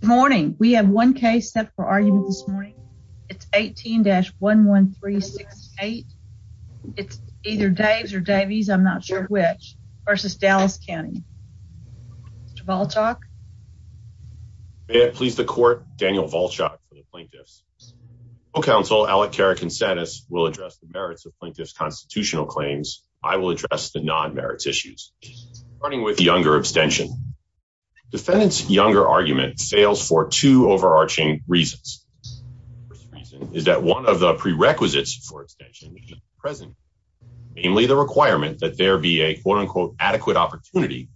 Good morning. We have one case set for argument this morning. It's 18-11368. It's either Daves or Davies, I'm not sure which, versus Dallas County. May I please the court, Daniel Volchok for the Plaintiffs. Co-counsel, Alec Cara-Consetis, will address the merits of plaintiffs' constitutional claims. I will address the non-merits issues. Starting with the extension. Defendants' younger argument fails for two overarching reasons. One of the prerequisites for extension is present, namely the requirement that there be a quote-unquote adequate opportunity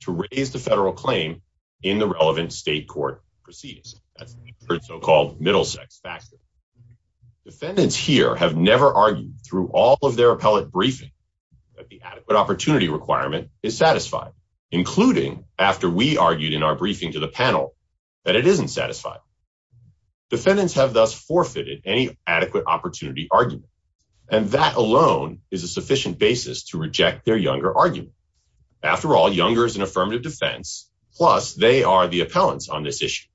to raise the federal claim in the relevant state court proceedings, the so-called Middlesex facts. Defendants here have never argued through all of their appellate briefings that the including after we argued in our briefing to the panel that it isn't satisfiable. Defendants have thus forfeited any adequate opportunity argument, and that alone is a sufficient basis to reject their younger argument. After all, younger is an affirmative defense, plus they are the appellants on this issue.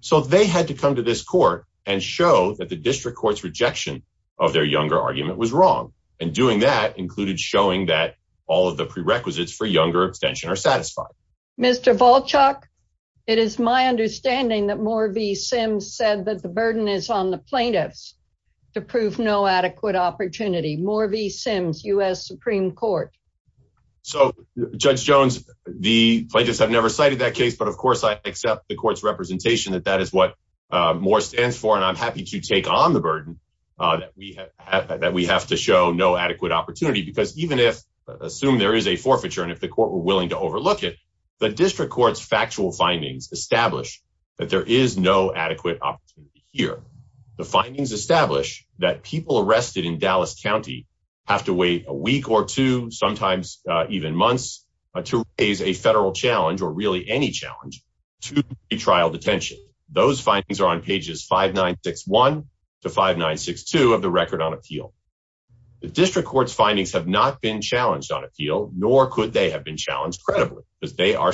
So they had to come to this court and show that the district court's rejection of their younger argument was wrong, and doing that included showing that all of the prerequisites for younger extension are satisfied. Mr. Volchok, it is my understanding that Moore v. Sims said that the burden is on the plaintiffs to prove no adequate opportunity. Moore v. Sims, U.S. Supreme Court. So Judge Jones, the plaintiffs have never cited that case, but of course I accept the court's representation that that is what Moore stands for, and I'm happy to take on the burden that we have to show no adequate opportunity, because even if, assume there is a forfeiture, and if the court were willing to overlook it, the district court's factual findings establish that there is no adequate opportunity here. The findings establish that people arrested in Dallas County have to wait a week or two, sometimes even months, to raise a federal challenge, or really any challenge, to trial detention. Those findings are on pages 5961 to 5962 of the Record on Appeal. The district court's have not been challenged on appeal, nor could they have been challenged credibly, because they are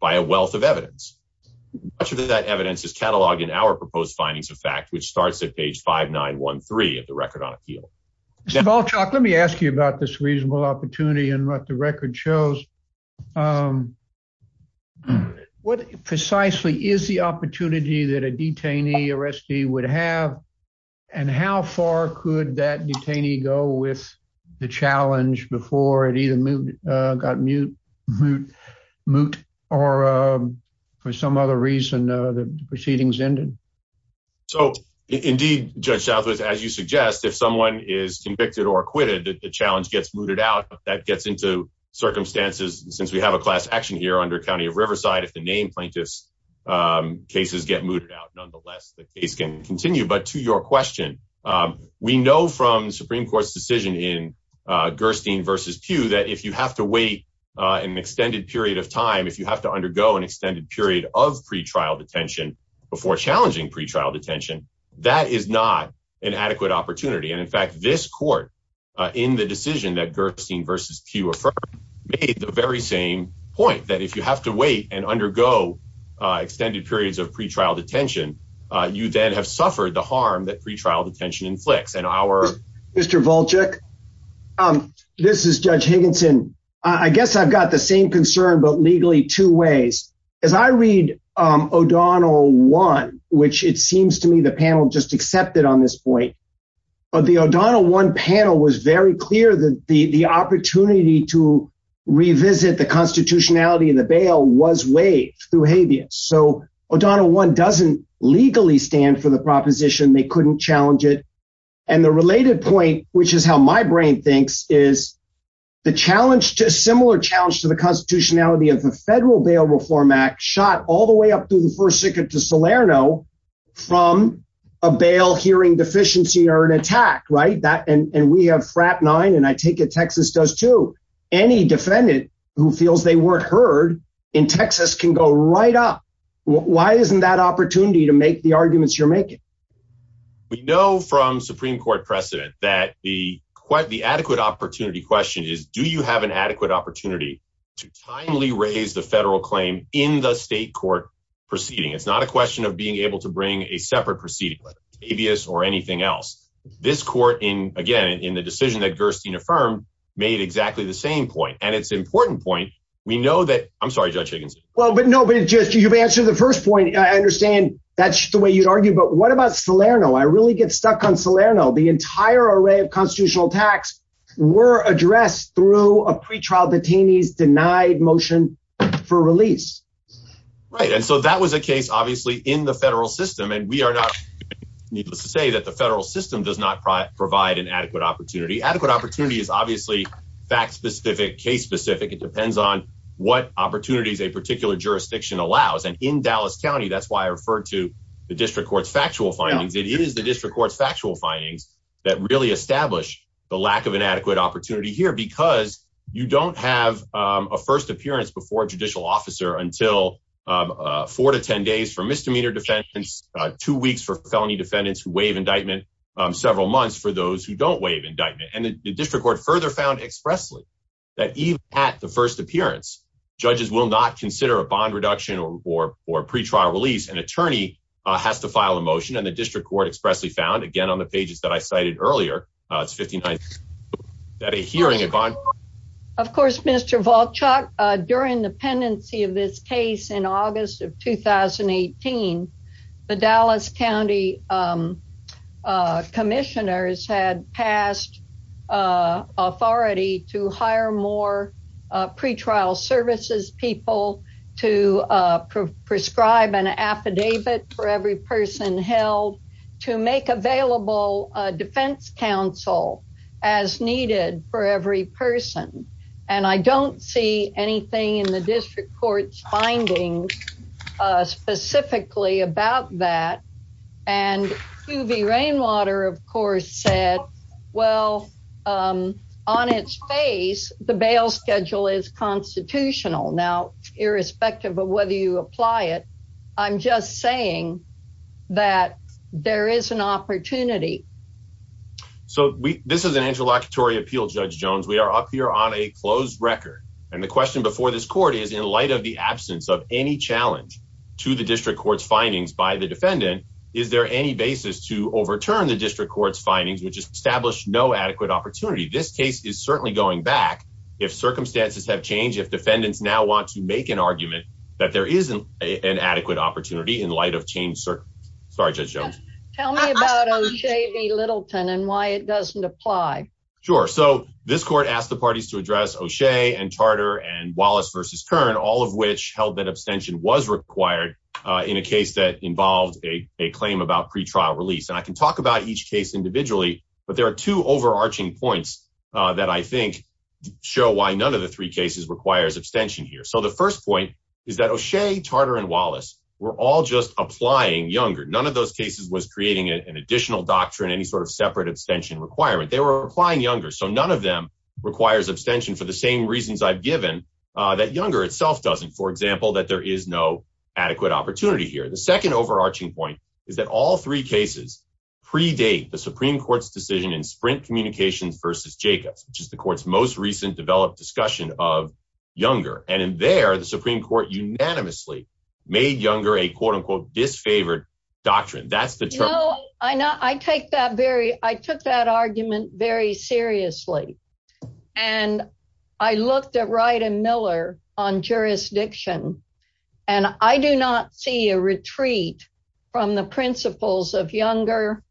by a wealth of evidence. Much of that evidence is cataloged in our proposed findings of fact, which starts at page 5913 of the Record on Appeal. Mr. Volchok, let me ask you about this reasonable opportunity and what the record shows. What precisely is the opportunity that a detainee or SD would have, and how far could that detainee go with the challenge before it even got moot, or for some other reason, the proceedings ended? So, indeed, Judge Chapswood, as you suggest, if someone is convicted or acquitted, the challenge gets mooted out. If that gets into circumstances, since we have a class action here under County of Riverside, if the name plaintiff's cases get mooted out nonetheless, the case can continue. But to your question, we know from the Supreme Court's decision in Gerstein v. Pugh that if you have to wait an extended period of time, if you have to undergo an extended period of pretrial detention before challenging pretrial detention, that is not an adequate opportunity. And in fact, this court, in the decision that Gerstein v. Pugh referred to, made the very same point, that if you have to wait and undergo extended periods of pretrial detention, you then have suffered the harm that pretrial detention inflicts. Mr. Volchek, this is Judge Higginson. I guess I've got the same concern, but legally two ways. If I read O'Donnell 1, which it seems to me the panel just accepted on this point, but the O'Donnell 1 panel was very clear that the opportunity to revisit the constitutionality in the bail was waived through habeas. So O'Donnell 1 doesn't legally stand for the proposition. They couldn't challenge it. And the related point, which is how my brain thinks, is the similar challenge to the constitutionality of the Federal Bail Reform Act shot all the way up through the First Circuit to Salerno from a bail hearing deficiency or an attack, right? And we have FRAP 9, and I take it Texas does too. Any defendant who feels they weren't heard in Texas can go right up. Why isn't that opportunity to make the arguments you're making? We know from Supreme Court precedent that the adequate opportunity question is, do you have an adequate opportunity to finally raise the federal claim in the state court proceeding? It's not a question of being able to bring a separate proceeding, habeas or anything else. This court, again, in the decision that Gerstein affirmed, made exactly the same point. And it's an important point. We know that, I'm sorry, Judge Higgins. Well, but no, but it's just, you've answered the first point. I understand that's the way you'd argue, but what about Salerno? I really get stuck on Salerno. The entire array of constitutional attacks were addressed through a pretrial detainee's denied motion for release. Right, and so that was a case, obviously, in the federal system. And we are not, needless to say, that the federal system does not provide an adequate opportunity. Adequate opportunity is obviously fact-specific case-specific. It depends on what opportunities a particular jurisdiction allows. And in Dallas County, that's why I referred to the district court's factual findings. It is the district court's factual findings that really establish the lack of an adequate opportunity here, because you don't have a first appearance before a judicial officer until four to ten days for misdemeanor defendants, two weeks for felony defendants who waive indictment, several months for those who don't waive indictment. And the district court further found expressly that even at the first appearance, judges will not consider a bond reduction or pretrial release. An attorney has to file a motion, and the district court expressly found, again on the pages that I cited earlier, that a hearing in bond... Of course, Mr. Volchak, during the pendency of this case in August of 2018, the Dallas County Commissioners had passed authority to hire more pretrial services people to prescribe an affidavit for every person held to make available defense counsel as needed for every person. And I don't see anything in the district court's findings specifically about that. And Suvi Rainwater, of course, said, well, on its face, the bail schedule is constitutional. Now, irrespective of whether you apply it, I'm just saying that there is an opportunity. So this is an interlocutory appeal, Judge Jones. We are up here on a closed record, and the challenge to the district court's findings by the defendant, is there any basis to overturn the district court's findings, which established no adequate opportunity? This case is certainly going back, if circumstances have changed, if defendants now want to make an argument that there is an adequate opportunity in light of changed circumstances. Sorry, Judge Jones. Tell me about O'Shea v. Littleton and why it doesn't apply. Sure. So this court asked the parties to address O'Shea and Tarter and Wallace v. Kern, all of which held that abstention was required in a case that involves a claim about pretrial release. And I can talk about each case individually, but there are two overarching points that I think show why none of the three cases requires abstention here. So the first point is that O'Shea, Tarter, and Wallace were all just applying younger. None of those cases was creating an additional doctrine, any sort of separate abstention requirement. They were applying younger. So none of them requires abstention for the same reasons I've given, that younger itself doesn't. For example, that there is no adequate opportunity here. The second overarching point is that all three cases predate the Supreme Court's decision in Sprint Communications v. Jacobs, which is the court's most recent developed discussion of younger. And in there, the Supreme Court unanimously made younger a quote-unquote disfavored doctrine. That's the term. No, I take that very, I took that I looked at Wright and Miller on jurisdiction. And I do not see a retreat from the principles of younger,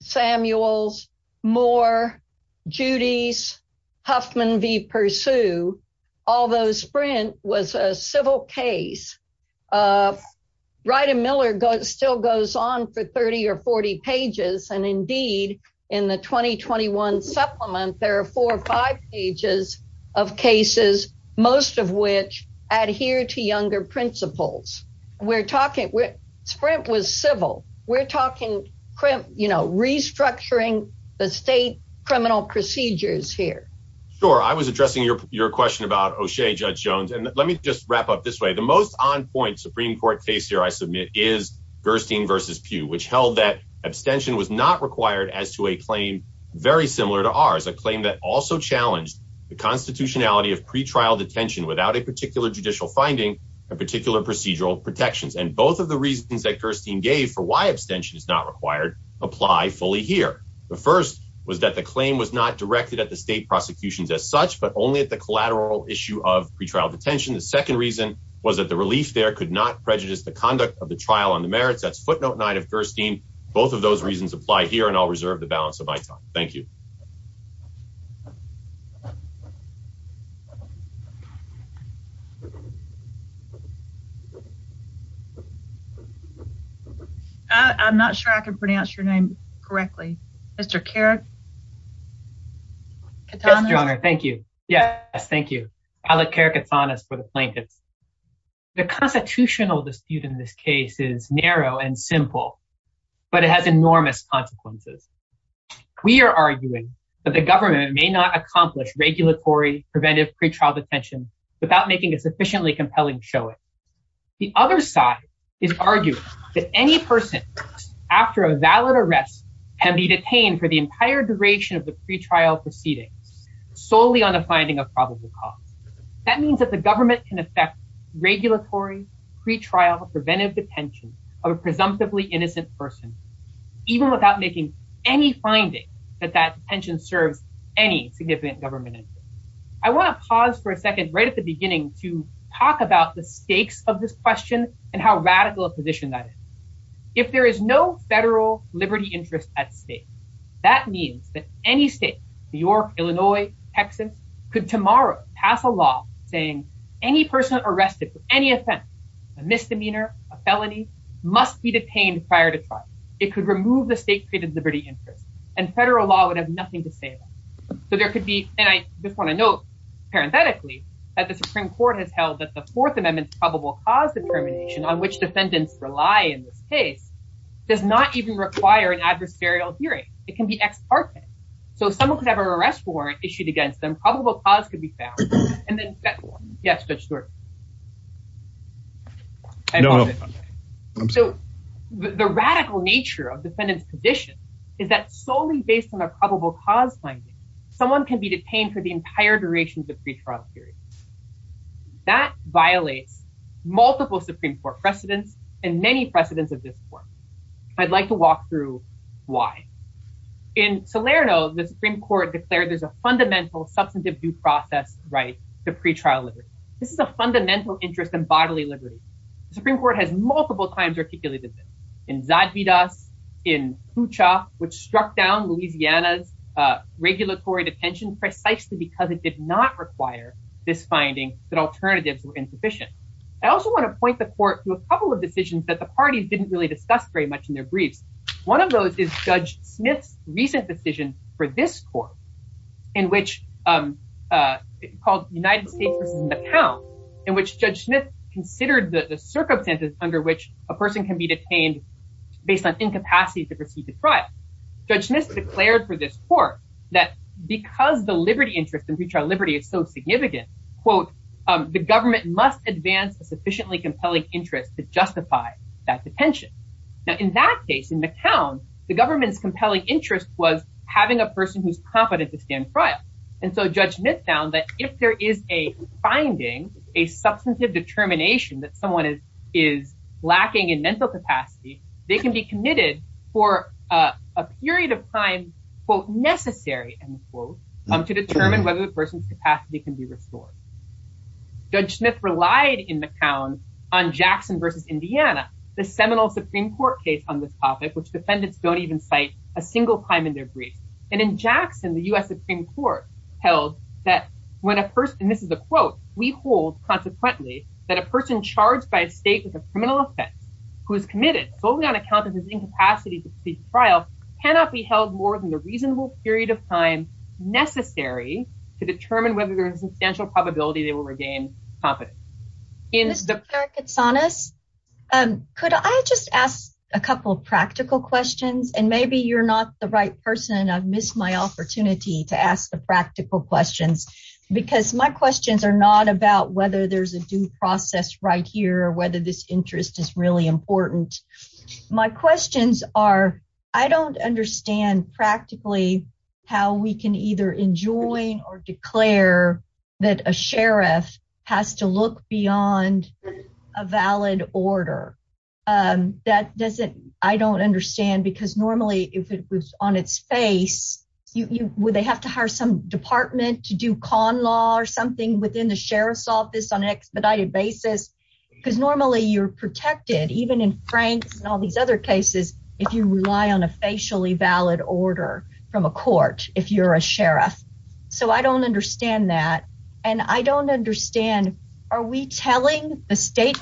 Samuels, Moore, Judy's, Huffman v. Pursue, although Sprint was a civil case. Wright and Miller still goes on for cases, most of which adhere to younger principles. We're talking with Sprint was civil. We're talking, you know, restructuring the state criminal procedures here. Sure. I was addressing your question about O'Shea, Judge Jones, and let me just wrap up this way. The most on point Supreme Court case here, I submit, is Versteen v. Pew, which held that abstention was not the constitutionality of pretrial detention without a particular judicial finding a particular procedural protections. And both of the reasons that Versteen gave for why abstention is not required apply fully here. The first was that the claim was not directed at the state prosecutions as such, but only at the collateral issue of pretrial detention. The second reason was that the relief there could not prejudice the conduct of the trial on the merits. That's footnote nine of Versteen. Both of those reasons apply here and I'll reserve the balance of my time. Thank you. I'm not sure I can pronounce your name correctly. Mr. Kerr? Thank you. Yes. Thank you. Alec Kerr Katanas for the plaintiff. The constitutional dispute in this case is narrow and simple, but it has enormous consequences. We are arguing that the government may not accomplish regulatory preventive pretrial detention without making a sufficiently compelling showing. The other side is arguing that any person after a valid arrest can be detained for the entire duration of the pretrial proceeding solely on the finding of probable cause. That means that the government can affect regulatory pretrial preventive detention of a presumptively innocent person even without making any finding that that detention served any significant government interest. I want to pause for a second right at the beginning to talk about the stakes of this question and how radical a position that is. If there is no federal liberty interest at stake, that means that any state, New York, Illinois, Texas, could tomorrow pass a law saying any person arrested for any offense, a misdemeanor, a felony, must be detained prior to trial. It could remove the state created liberty interest, and federal law would have nothing to say. So there could be, and I just want to note parenthetically, that the Supreme Court has held that the Fourth Amendment's probable cause determination on which defendants rely in this case does not even require an adverse burial hearing. It can be ex-parsent. So someone could have an arrest warrant issued against them, probable cause could be found, and then federal. Yes, Judge Stewart? So the radical nature of defendant's position is that solely based on a probable cause finding, someone can be detained for the entire duration of the pretrial period. That violates multiple Supreme Court precedents and many precedents of this one. I'd like to walk through why. In Salerno, the Supreme Court declared there's a fundamental substantive due process right to fundamental interest in bodily liberty. The Supreme Court has multiple times articulated this. In Zadida, in Pucha, which struck down Louisiana's regulatory detention precisely because it did not require this finding that alternatives were insufficient. I also want to point the court to a couple of decisions that the parties didn't really discuss very much in their brief. One of those is Judge Smith's recent decision for this court, in which it called United States in which Judge Smith considered the circumstances under which a person can be detained based on incapacity to proceed to trial. Judge Smith declared for this court that because the liberty interest in pretrial liberty is so significant, quote, the government must advance a sufficiently compelling interest to justify that detention. Now in that case, in McCown, the government's compelling interest was having a person who's competent to stand trial. And so Judge Smith found that if there is a finding, a substantive determination that someone is lacking in mental capacity, they can be committed for a period of time, quote, necessary, end quote, to determine whether the person's capacity can be restored. Judge Smith relied in McCown on Jackson versus Indiana, the seminal Supreme Court case on this topic, which defendants don't even cite a that when a person, this is a quote, we hold, consequently, that a person charged by state with a criminal offense, who is committed solely on account of his incapacity to be trialed, cannot be held more than the reasonable period of time necessary to determine whether there is a substantial probability they will regain competence. In the case, could I just ask a couple of practical questions, and maybe you're not the right person, I've missed my opportunity to ask the practical questions, because my questions are not about whether there's a due process right here, or whether this interest is really important. My questions are, I don't understand practically, how we can either enjoin or declare that a sheriff has to look beyond a valid order. That doesn't, I don't understand because normally, if it was on its face, you would they have to hire some department to do con law or something within the sheriff's office on an expedited basis. Because normally you're protected, even in Frank and all these other cases, if you rely on a facially valid order from a court, if you're a sheriff. So I don't understand that. And I don't understand, are we telling the specific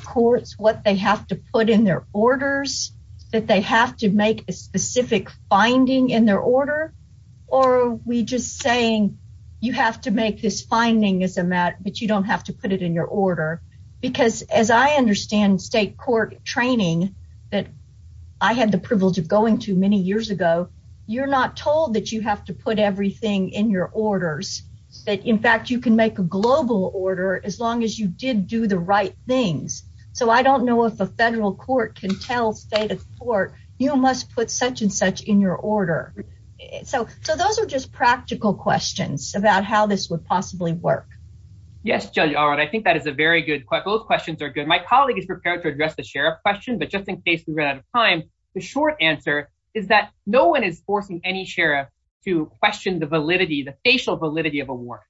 finding in their order? Or we just saying, you have to make this finding as a matter, but you don't have to put it in your order. Because as I understand state court training, that I had the privilege of going to many years ago, you're not told that you have to put everything in your orders, that in fact, you can make a global order as long as you did do the right things. So I don't know if a federal court can tell state court, you must put such and such in your order. So those are just practical questions about how this would possibly work. Yes, Julie. All right. I think that is a very good question. Both questions are good. My colleague is prepared to address the sheriff question, but just in case we run out of time, the short answer is that no one is forcing any sheriff to question the validity, the facial validity of a warrant.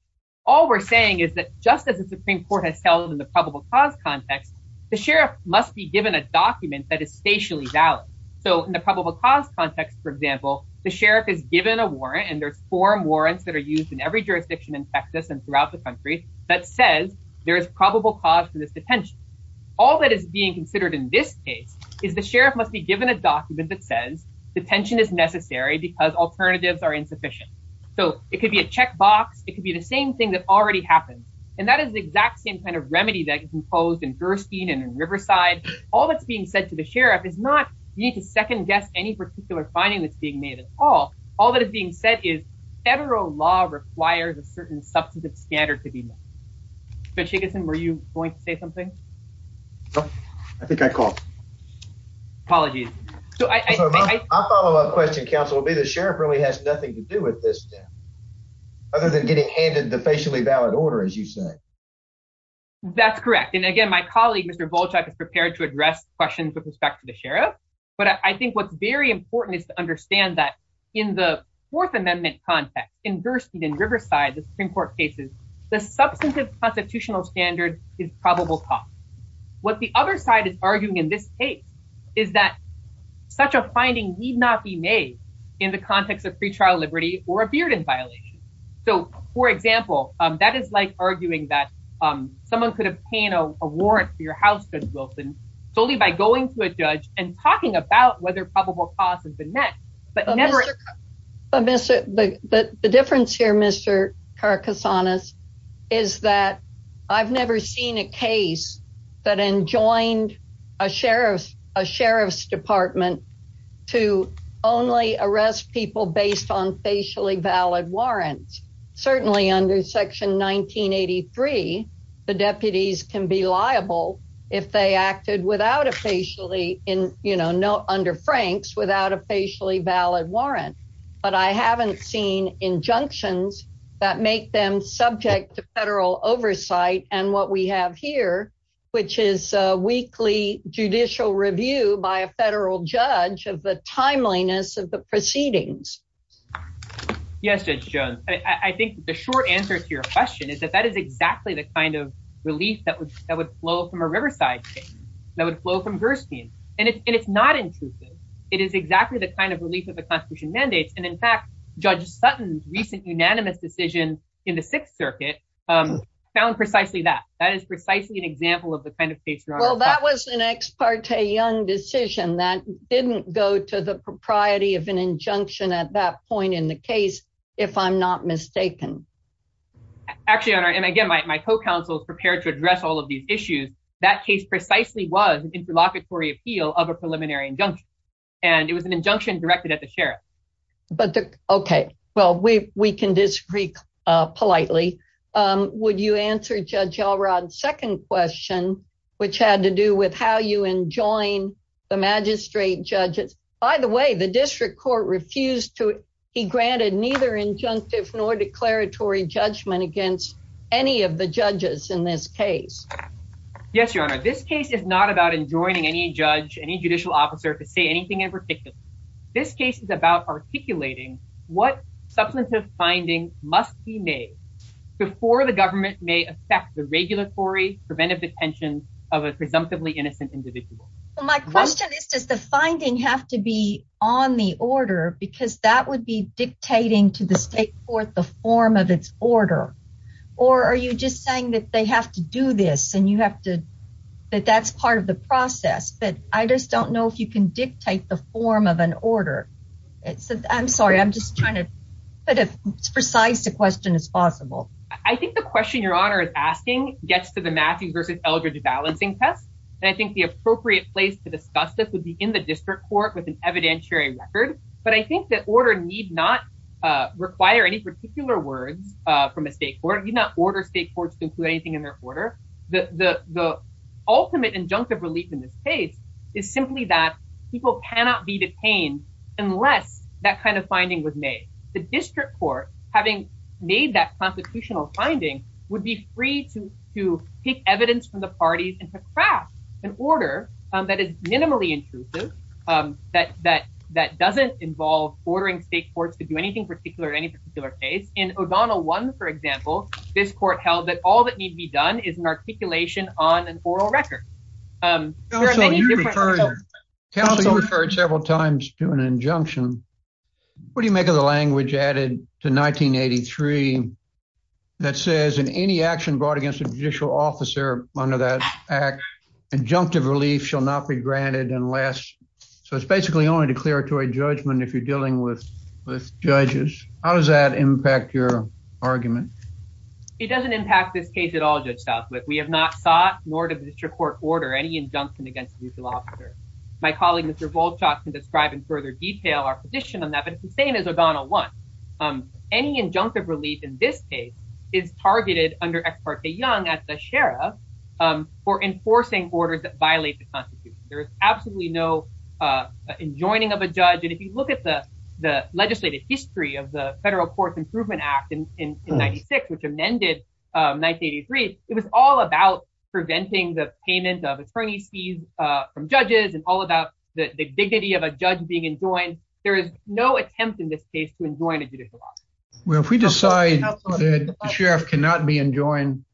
All we're saying is that just as the Supreme Court has held in the probable cause context, the sheriff must be given a document that is facially valid. So in the probable cause context, for example, the sheriff is given a warrant, and there's four warrants that are used in every jurisdiction in Texas and throughout the country that says there is probable cause for this detention. All that is being considered in this case is the sheriff must be given a document that says detention is necessary because alternatives are insufficient. So it could be a checkbox, it could be the same thing that already happened, and that is the exact same kind of remedy that is imposed in Durstein and in Riverside. All that's being said to the sheriff is not, you need to second-guess any particular finding that's being made at all. All that is being said is federal law requires a certain substantive standard to be met. So, Chickasen, were you going to say something? I think I called. Apologies. I'll follow up a question, counsel. Maybe the sheriff really has nothing to do with this other than getting handed the facially valid order, as you say. That's correct, and again, my colleague, Mr. Volchek, is prepared to address questions with respect to the sheriff, but I think what's very important is to understand that in the Fourth Amendment context in Durstein and Riverside, the Supreme Court cases, the substantive constitutional standard is probable cause. What the other side is arguing in this case is that such a finding need not be made in the case. So, for example, that is like arguing that someone could obtain a warrant for your house, Judge Wilson, solely by going to a judge and talking about whether probable cause has been met. But the difference here, Mr. Caracasanas, is that I've never seen a case that enjoined a sheriff's department to only arrest people based on facially valid warrants. Certainly under Section 1983, the deputies can be liable if they acted without a facially in, you know, under Franks, without a facially valid warrant, but I haven't seen injunctions that make them subject to federal oversight and what we have here, which is a weekly judicial review by a federal judge of the timeliness of the proceedings. Yes, Judge Jones, I think the short answer to your question is that that is exactly the kind of release that would flow from a Riverside case, that would flow from Durstein, and it's not insensitive. It is exactly the kind of release of the Constitution mandates, and in fact, Judge Sutton's recent unanimous decision in the Sixth Circuit found precisely that. That is precisely an example of the kind of case you're on. Well, that was an ex parte young decision that didn't go to the propriety of an injunction at that point in the case, if I'm not mistaken. Actually, and again, my co-counsel is prepared to address all of these issues. That case precisely was an interlocutory appeal of a preliminary injunction, and it was an injunction directed at the sheriff. Okay, well, we can disagree politely. Would you answer Judge Elrod's second question, which had to do with how you enjoin the magistrate judges? By the way, the district court refused to be granted neither injunctive nor declaratory judgment against any of the judges in this case. Yes, Your Honor, this case is not about enjoining any judge, any judicial officer, to say anything in particular. This case is about articulating what substantive findings must be made before the government may affect the regulatory preventive detention of a presumptively innocent individual. My question is, does the finding have to be on the order, because that would be dictating to the state court the form of its order? Or are you just saying that they have to do this, and you have to, that that's part of the process? But I just don't know if you can dictate the form of an order. I'm sorry, I'm just trying to precise the question as possible. I think the question Your Honor is asking gets to the Matthews v. Eldridge balancing test, and I think the appropriate place to discuss this would be in the district court with an evidentiary record. But I think that order need not require any particular word from a state court, need not order state courts to include anything in their order. The ultimate injunctive relief in this case is simply that people cannot be detained unless that kind of finding was made. The district court, having made that constitutional finding, would be free to take evidence from the parties and to craft an order that is minimally intrusive, that doesn't involve ordering state courts to do anything particular at any particular stage. In O'Donnell 1, for example, this court held that all that need be done is an articulation on an oral record. Counsel, you referred several times to an injunction. What do you make of the language added to 1983 that says, in any action brought against a judicial officer under that act, injunctive relief shall not be granted unless... so it's basically only declaratory judgment if you're dealing with judges. How does that work? We have not sought, nor does the district court order, any injunction against a judicial officer. My colleague, Mr. Volchok, can describe in further detail our position on that, but the same as O'Donnell 1. Any injunctive relief in this case is targeted under Ex parte Young at the sheriff for enforcing orders that violate the Constitution. There is absolutely no enjoining of a judge, and if you look at the legislative history of the Federal Courts Improvement Act in 96, which is all about preventing the payment of the crony fees from judges and all about the dignity of a judge being enjoined, there is no attempt in this case to enjoin a judicial officer. Well, if we decide the sheriff cannot be enjoined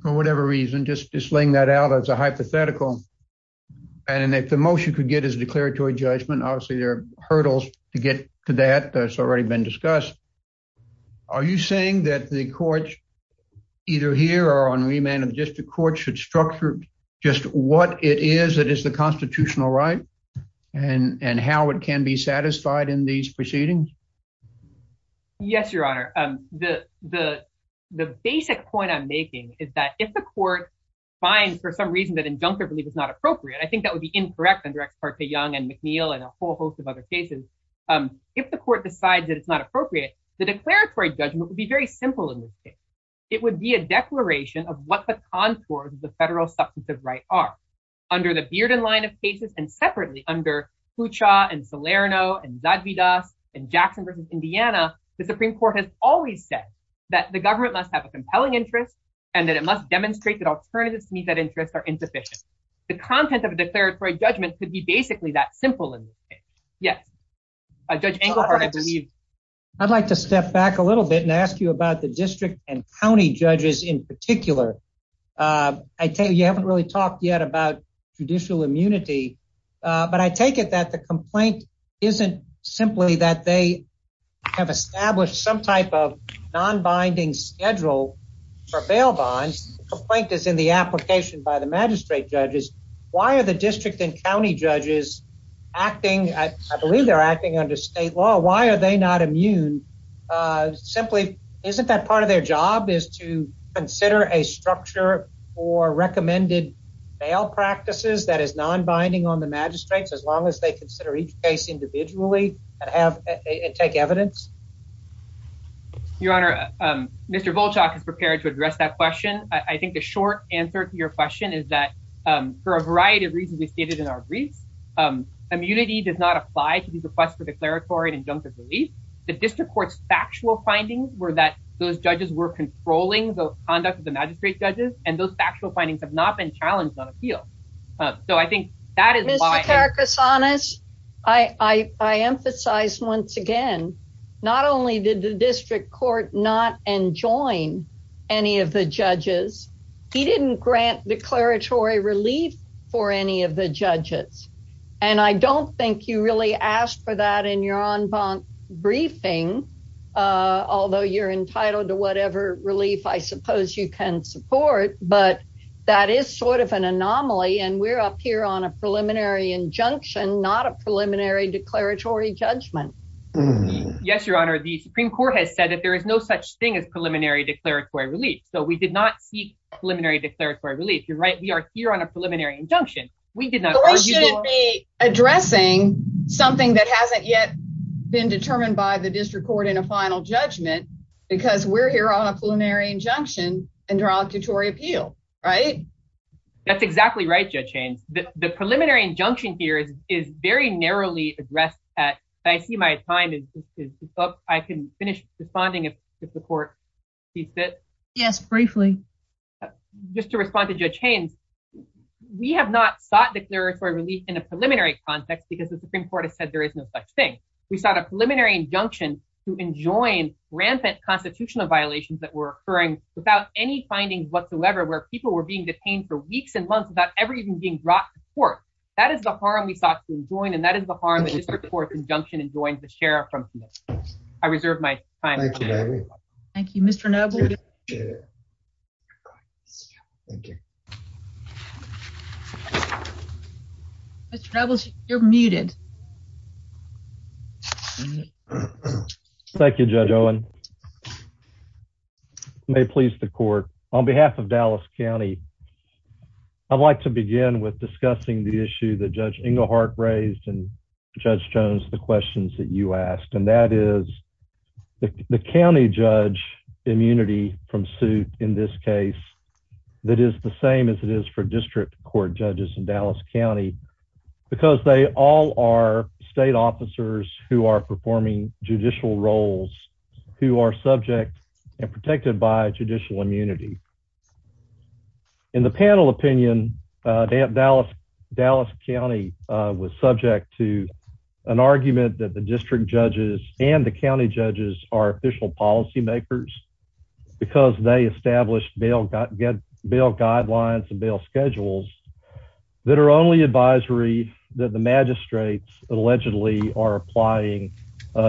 for whatever reason, just laying that out as a hypothetical, and if the motion could get his declaratory judgment, obviously there are hurdles to get to that. That's already been discussed. So, the district court should structure just what it is that is the constitutional right, and how it can be satisfied in these proceedings? Yes, Your Honor. The basic point I'm making is that if the court finds, for some reason, that injunctive relief is not appropriate, I think that would be incorrect under Ex parte Young and McNeil and a whole host of other cases. If the court decides that it's not appropriate, the declaratory judgment would be very simple in this case. It would be a declaration of what the contours of the federal substantive right are. Under the Bearden line of cases, and separately under Kucha and Salerno and Zadvida and Jackson vs. Indiana, the Supreme Court has always said that the government must have a compelling interest and that it must demonstrate that alternatives to meet that interest are insufficient. The content of a declaratory judgment could be basically that simple in this case. Yes, Judge Engelhardt, I believe. I'd like to step back a little bit and ask you about the district and county judges in particular. I tell you, you haven't really talked yet about judicial immunity, but I take it that the complaint isn't simply that they have established some type of non-binding schedule for bail bonds. The complaint is in the application by the magistrate judges. Why are the district and county judges acting, I believe they're acting under state law, why are they not immune? Simply, isn't that part of their job is to consider a structure for recommended bail practices that is non-binding on the magistrates as long as they consider each case individually and take evidence? Your Honor, Mr. Volchak is prepared to address that question. I think the short answer to your question is that for a variety of reasons, as stated in our brief, immunity does not apply to these requests for declaratory and injunctive relief. The district court's factual findings were that those judges were controlling the conduct of the magistrate judges, and those factual findings have not been challenged on appeal. So I think that is why... Mr. Krasanich, I emphasize once again, not only did the district court not enjoin any of the judges, and I don't think you really asked for that in your on-bond briefing, although you're entitled to whatever relief I suppose you can support, but that is sort of an anomaly and we're up here on a preliminary injunction, not a preliminary declaratory judgment. Yes, Your Honor, the Supreme Court has said that there is no such thing as preliminary declaratory relief, so we did not seek preliminary declaratory relief. You're right, we are here on a preliminary injunction. The court should be addressing something that hasn't yet been determined by the district court in a final judgment, because we're here on a preliminary injunction in derogatory appeal, right? That's exactly right, Judge Haynes. The preliminary injunction here is very narrowly addressed at... I see my time is up. I can finish responding if the court befits. Yes, briefly. Just to respond to the question about declaratory relief in a preliminary context, because the Supreme Court has said there is no such thing. We sought a preliminary injunction to enjoin rampant constitutional violations that were occurring without any findings whatsoever, where people were being detained for weeks and months without ever even being brought to court. That is the harm we sought to enjoin, and that is the harm that a district court injunction enjoins a sheriff from committing. I reserve my time. Thank you, Mr. Neville. Mr. Revels, you're muted. Thank you, Judge Owen. May it please the court, on behalf of Dallas County, I'd like to begin with discussing the issue that Judge Englehart raised and Judge Jones, the questions that you asked, and that is the county judge immunity from suit in this case that is the same as it is for county, because they all are state officers who are performing judicial roles, who are subject and protected by judicial immunity. In the panel opinion, Dallas County was subject to an argument that the district judges and the county judges are official policymakers, because they established bail guidelines and bail schedules that are only advisory that the magistrates allegedly are applying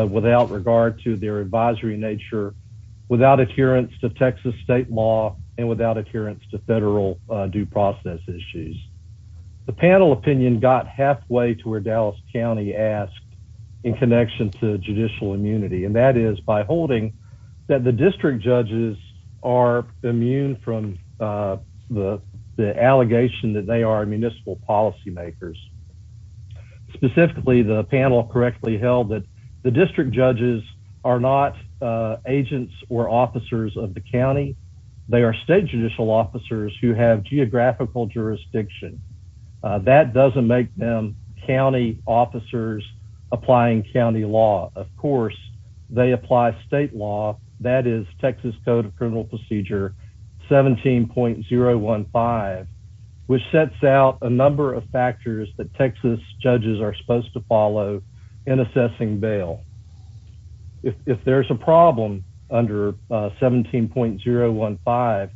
without regard to their advisory nature, without adherence to Texas state law, and without adherence to federal due process issues. The panel opinion got halfway to where Dallas County asked in connection to from the allegation that they are municipal policymakers. Specifically, the panel correctly held that the district judges are not agents or officers of the county, they are state judicial officers who have geographical jurisdiction. That doesn't make them county officers applying county law. Of course, they apply state law, that is Texas Code of Criminal Procedure 17.015, which sets out a number of factors that Texas judges are supposed to follow in assessing bail. If there's a problem under 17.015,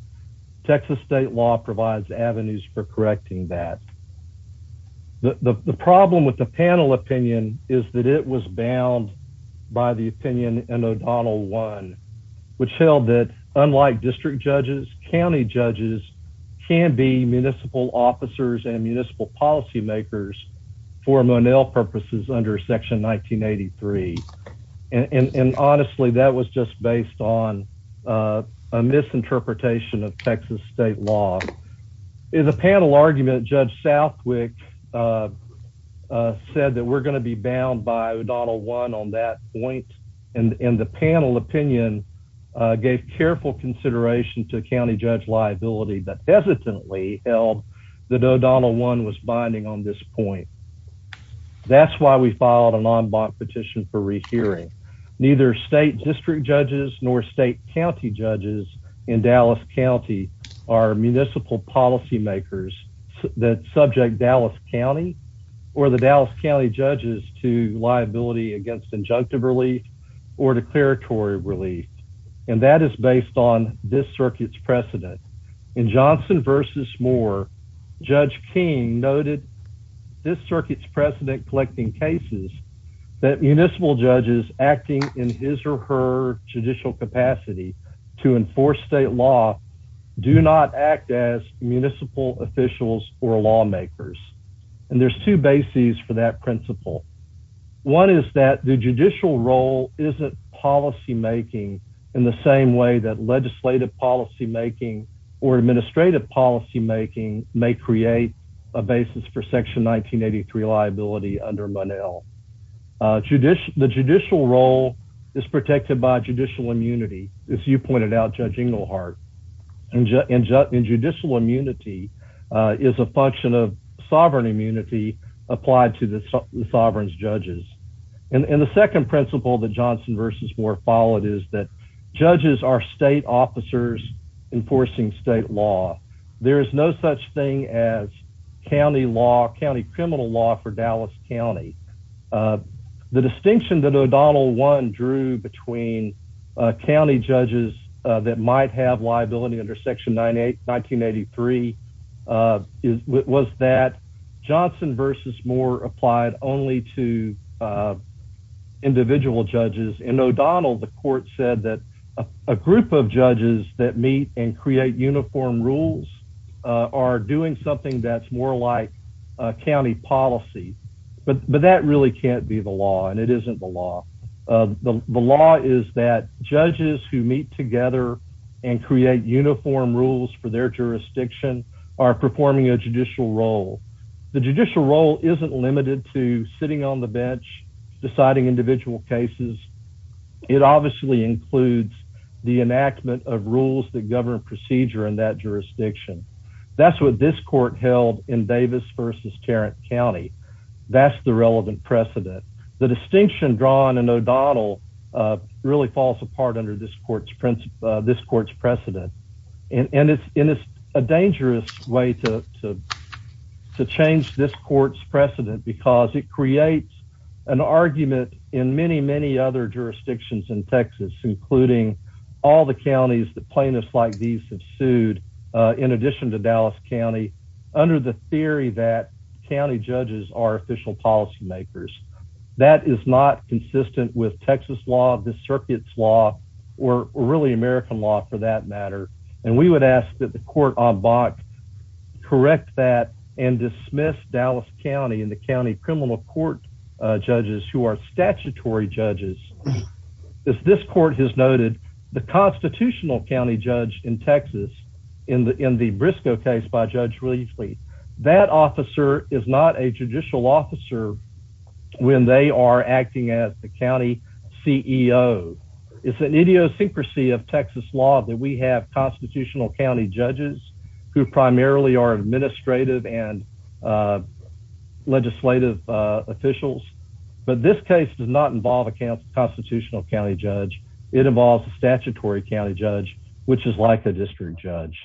Texas state law provides avenues for correcting that. The problem with the panel opinion is that it was bound by the opinion in O'Donnell 1, which held that unlike district judges, county judges can be municipal officers and municipal policymakers for Monell purposes under section 1983. And honestly, that was just based on a misinterpretation of Texas state law. In the panel argument, Judge Southwick said that we're going to be and the panel opinion gave careful consideration to county judge liability that hesitantly held that O'Donnell 1 was binding on this point. That's why we filed an en banc petition for rehearing. Neither state district judges nor state county judges in Dallas County are municipal policymakers that subject Dallas County or the Dallas County judges to liability against injunctive relief or declaratory relief, and that is based on this circuit's precedent. In Johnson v. Moore, Judge King noted this circuit's precedent collecting cases that municipal judges acting in his or her judicial capacity to enforce state law do not act as municipal officials or lawmakers. And there's two bases for that role isn't policymaking in the same way that legislative policymaking or administrative policymaking may create a basis for section 1983 liability under Monell. The judicial role is protected by judicial immunity, as you pointed out, Judge Inglehart, and judicial immunity is a function of the sovereign's judges. And the second principle that Johnson v. Moore followed is that judges are state officers enforcing state law. There is no such thing as county law, county criminal law, for Dallas County. The distinction that O'Donnell 1 drew between county judges that might have liability under section 1983 was that Johnson v. Moore applied only to individual judges. In O'Donnell, the court said that a group of judges that meet and create uniform rules are doing something that's more like county policy, but that really can't be the law and it isn't the law. The law is that judges who meet together and create uniform rules for their jurisdiction are performing a judicial role. The judicial role isn't limited to sitting on the bench deciding individual cases. It obviously includes the enactment of rules that govern procedure in that jurisdiction. That's what this court held in Davis v. Tarrant County. That's the relevant precedent. The distinction drawn in O'Donnell really falls apart under this court's precedent. And it's a dangerous way to change this court's precedent because it creates an argument in many, many other jurisdictions in Texas, including all the counties that plaintiffs like these have sued in addition to Dallas County, under the theory that county judges are official policymakers. That is not consistent with Texas law, the circuit's law, or really American law for that matter. And we would ask that the court on box correct that and dismiss Dallas County and the county criminal court judges who are statutory judges. As this court has noted, the constitutional county judge in Texas, in the in the Briscoe case by Judge Riesley, that officer is not a judicial officer when they are acting as the county CEO. It's an idiosyncrasy of Texas law that we have constitutional county judges who primarily are administrative and legislative officials. But this case does not involve a constitutional county judge. It involves a statutory county judge, which is like a district judge.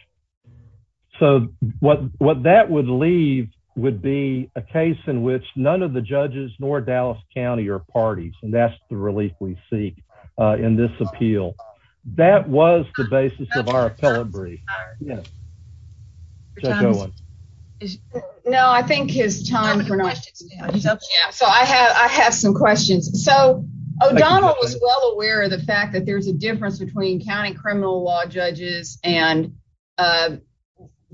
So what that would leave would be a case in which none of the judges nor Dallas County are parties. And that's the relief we see in this appeal. That was the basis of our appellate brief. Now, I think it's time for us. So I have I have some questions. So I was well aware of the fact that there's a difference between county criminal law judges and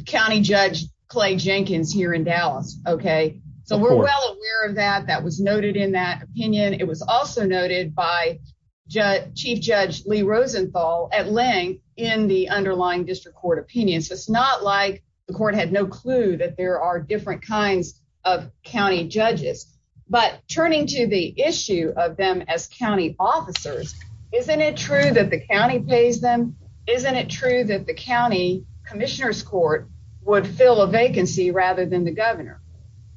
county Judge Clay Jenkins here in Dallas. Okay, so we're well aware of that. That was noted in that opinion. It was also noted by Chief Judge Lee Rosenthal at length in the underlying district court opinions. It's not like the court had no clue that there are different kinds of county judges. But turning to the issue of them as county officers, isn't it true that the county pays them? Isn't it true that the county commissioners court would fill a vacancy rather than the governor?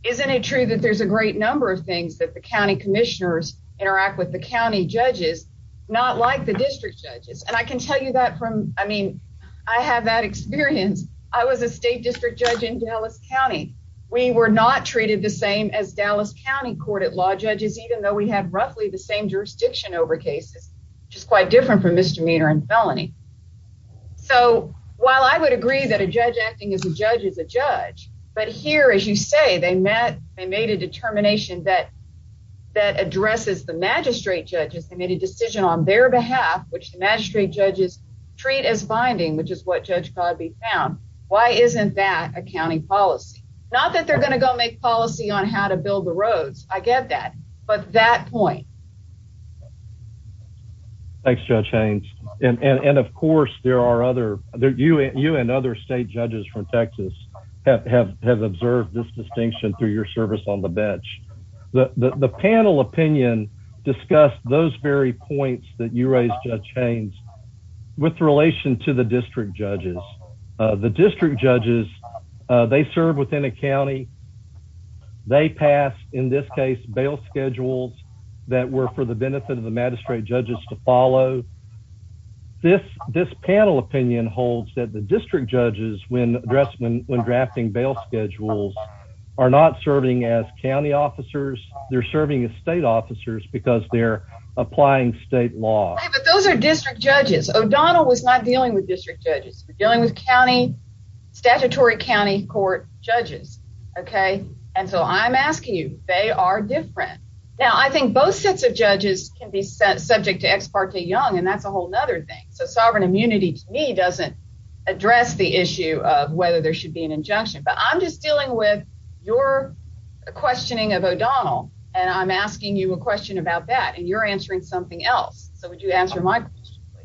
Isn't it true that there's a great number of things that the county commissioners interact with the county judges, not like the district judges? And I can tell you that from I mean, I have that experience. I was a state district judge in Dallas County. We were not treated the same as Dallas County court at law judges, even though we had roughly the same jurisdiction over cases, which is quite different from misdemeanor and felony. So while I would agree that a judge acting as a judge is a judge, but here, as you say, they met and made a determination that that addresses the magistrate judge's committee decision on their behalf, which the magistrate judges treat as binding, which is what Judge Cogby found. Why isn't that a county policy? Not that they're going to go make policy on how to build the roads. I get that. But that point. Thanks, Judge Haynes. And of course, there are other you and other state judges from Texas have observed this distinction through your service on the bench. The panel opinion discussed those very points that you raised, Judge Haynes, with relation to the district judges. The district judges, they serve within a county. They pass, in this case, bail schedules that were for the benefit of the magistrate judges to follow. This panel opinion holds that the district judges, when drafting bail schedules, are not serving as county officers. They're serving as state officers because they're applying state law. Those are district judges. O'Donnell was not dealing with district judges. He was dealing with statutory county court judges. Okay? And so I'm asking you, they are different. Now, I think both sets of judges can be subject to ex parte young, and that's a whole other thing. So, sovereign immunity, to me, doesn't address the issue of whether there should be an injunction. But I'm just dealing with your questioning of O'Donnell, and I'm asking you a question about that, and you're answering something else. So, would you answer my question?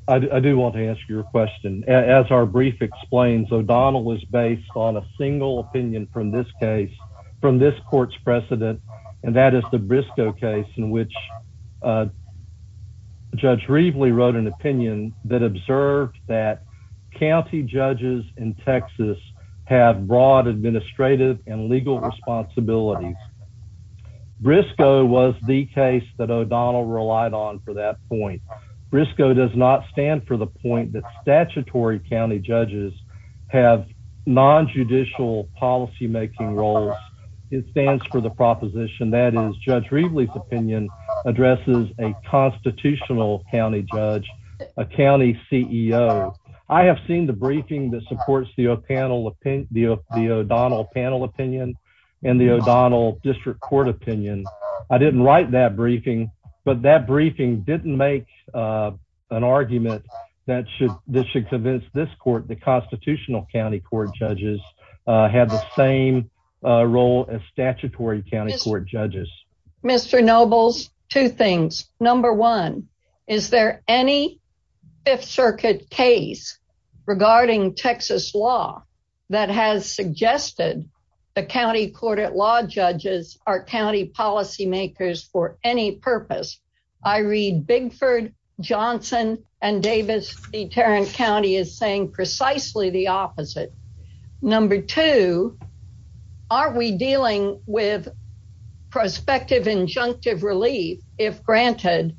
I do want to answer your question. As our brief explains, O'Donnell was based on a single opinion from this case, from this court's precedent, and that is the Briscoe case, in which Judge Reaveley wrote an opinion that observed that county judges in Texas have broad administrative and legal responsibilities. Briscoe was the case that O'Donnell relied on for that point. Briscoe does not stand for the point that statutory county judges have non-judicial policymaking roles. It stands for the proposition that is Judge Reaveley's opinion addresses a constitutional county judge, a county CEO. I have seen the briefing that supports the O'Donnell panel opinion and the O'Donnell district court opinion. I didn't like that briefing, but that briefing didn't make an argument that should convince this court that constitutional county court judges have the same role as statutory county court judges. Mr. Nobles, two things. Number one, is there any Fifth Circuit case regarding Texas law that has suggested the county court at law judges are county policy makers for any purpose? I read Bigford, Johnson, and Davis v. Tarrant County as saying precisely the opposite. Number two, are we dealing with prospective injunctive relief, if granted,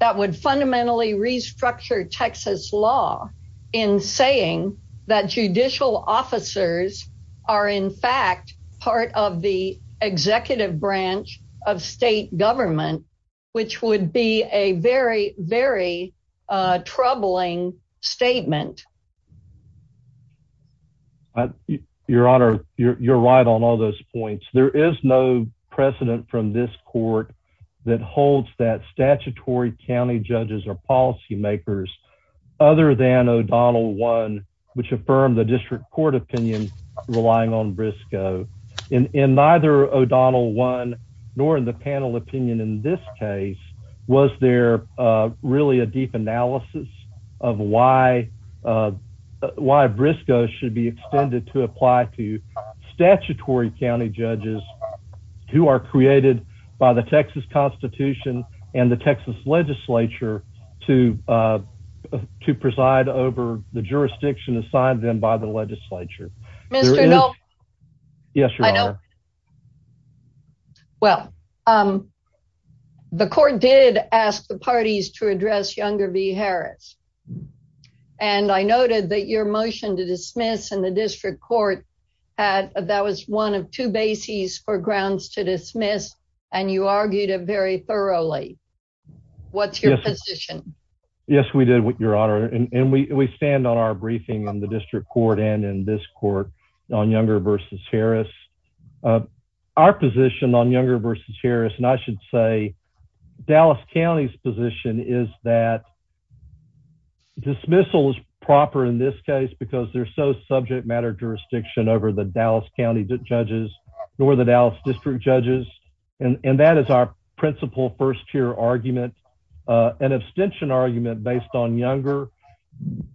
that would fundamentally restructure Texas law in saying that judicial officers are in the executive branch of state government, which would be a very, very troubling statement. Your Honor, you're right on all those points. There is no precedent from this court that holds that statutory county judges are policy makers other than O'Donnell one, which affirmed the district court opinion relying on Briscoe. In neither O'Donnell one nor in the panel opinion in this case, was there really a deep analysis of why Briscoe should be extended to apply to statutory county judges who are created by the Texas Constitution and the Texas legislature to preside over the jurisdiction assigned them by the Yes, Your Honor. Well, the court did ask the parties to address Younger v. Harris, and I noted that your motion to dismiss in the district court, that was one of two bases for grounds to dismiss, and you argued it very thoroughly. What's your position? Yes, we did, Your Honor, and we stand on our briefing on the Younger v. Harris. Our position on Younger v. Harris, and I should say Dallas County's position, is that dismissal is proper in this case because there's no subject matter jurisdiction over the Dallas County judges or the Dallas district judges, and that is our principal first-tier argument. An abstention argument based on Younger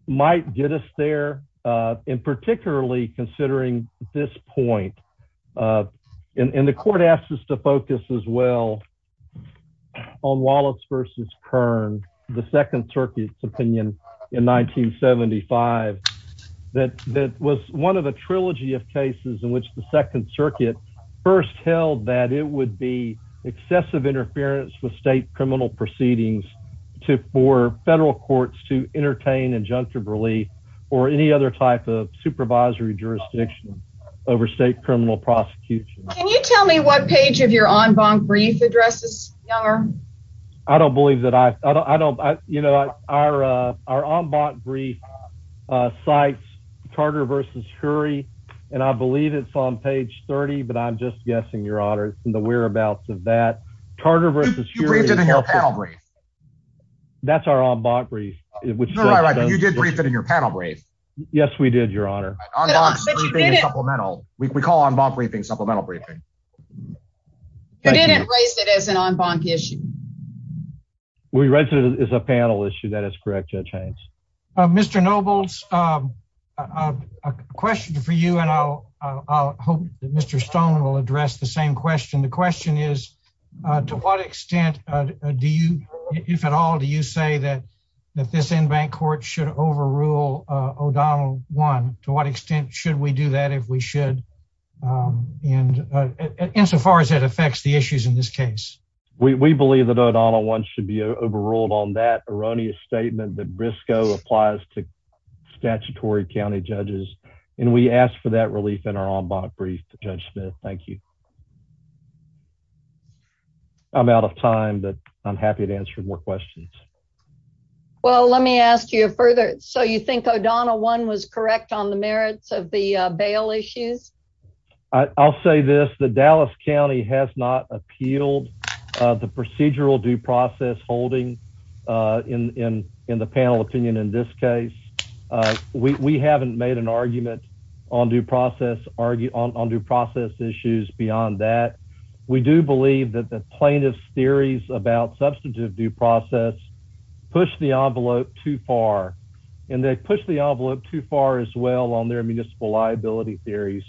might get us there, and particularly considering this point, and the court asked us to focus as well on Wallace v. Kern, the Second Circuit's opinion in 1975, that was one of a trilogy of cases in which the Second Circuit first held that it would be excessive interference with state criminal proceedings for federal courts to jurisdiction over state criminal prosecution. Can you tell me what page of your en banc brief addresses Younger? I don't believe that I, I don't, you know, our en banc brief cites Carter v. Hury, and I believe it's on page 30, but I'm just guessing, Your Honor, from the whereabouts of that. Carter v. Hury. You briefed it in your panel brief. That's our en banc brief. You did brief it in your panel brief. Yes, we did, Your Honor. En banc briefing is supplemental. We call en banc briefing supplemental briefing. You didn't raise it as an en banc issue. We raised it as a panel issue, that is correct, Judge Haynes. Mr. Nobles, a question for you, and I'll hope that Mr. Stone will address the same question. The question is, to what extent do you, if at all, do you say that this en banc court should overrule O'Donnell 1? To what extent should we do that, if we should, insofar as it affects the issues in this case? We believe that O'Donnell 1 should be overruled on that erroneous statement that Briscoe applies to statutory county judges, and we ask for that relief in our en banc brief, Judge Smith. Thank you. I'm out of time, but I'm happy to answer more questions. Well, let me ask you further. So, you think O'Donnell 1 was correct on the merits of the bail issue? I'll say this, the Dallas County has not appealed the procedural due process holding in the panel opinion in this on that. We do believe that the plaintiff's theories about substantive due process push the envelope too far, and they push the envelope too far as well on their municipal liability theories.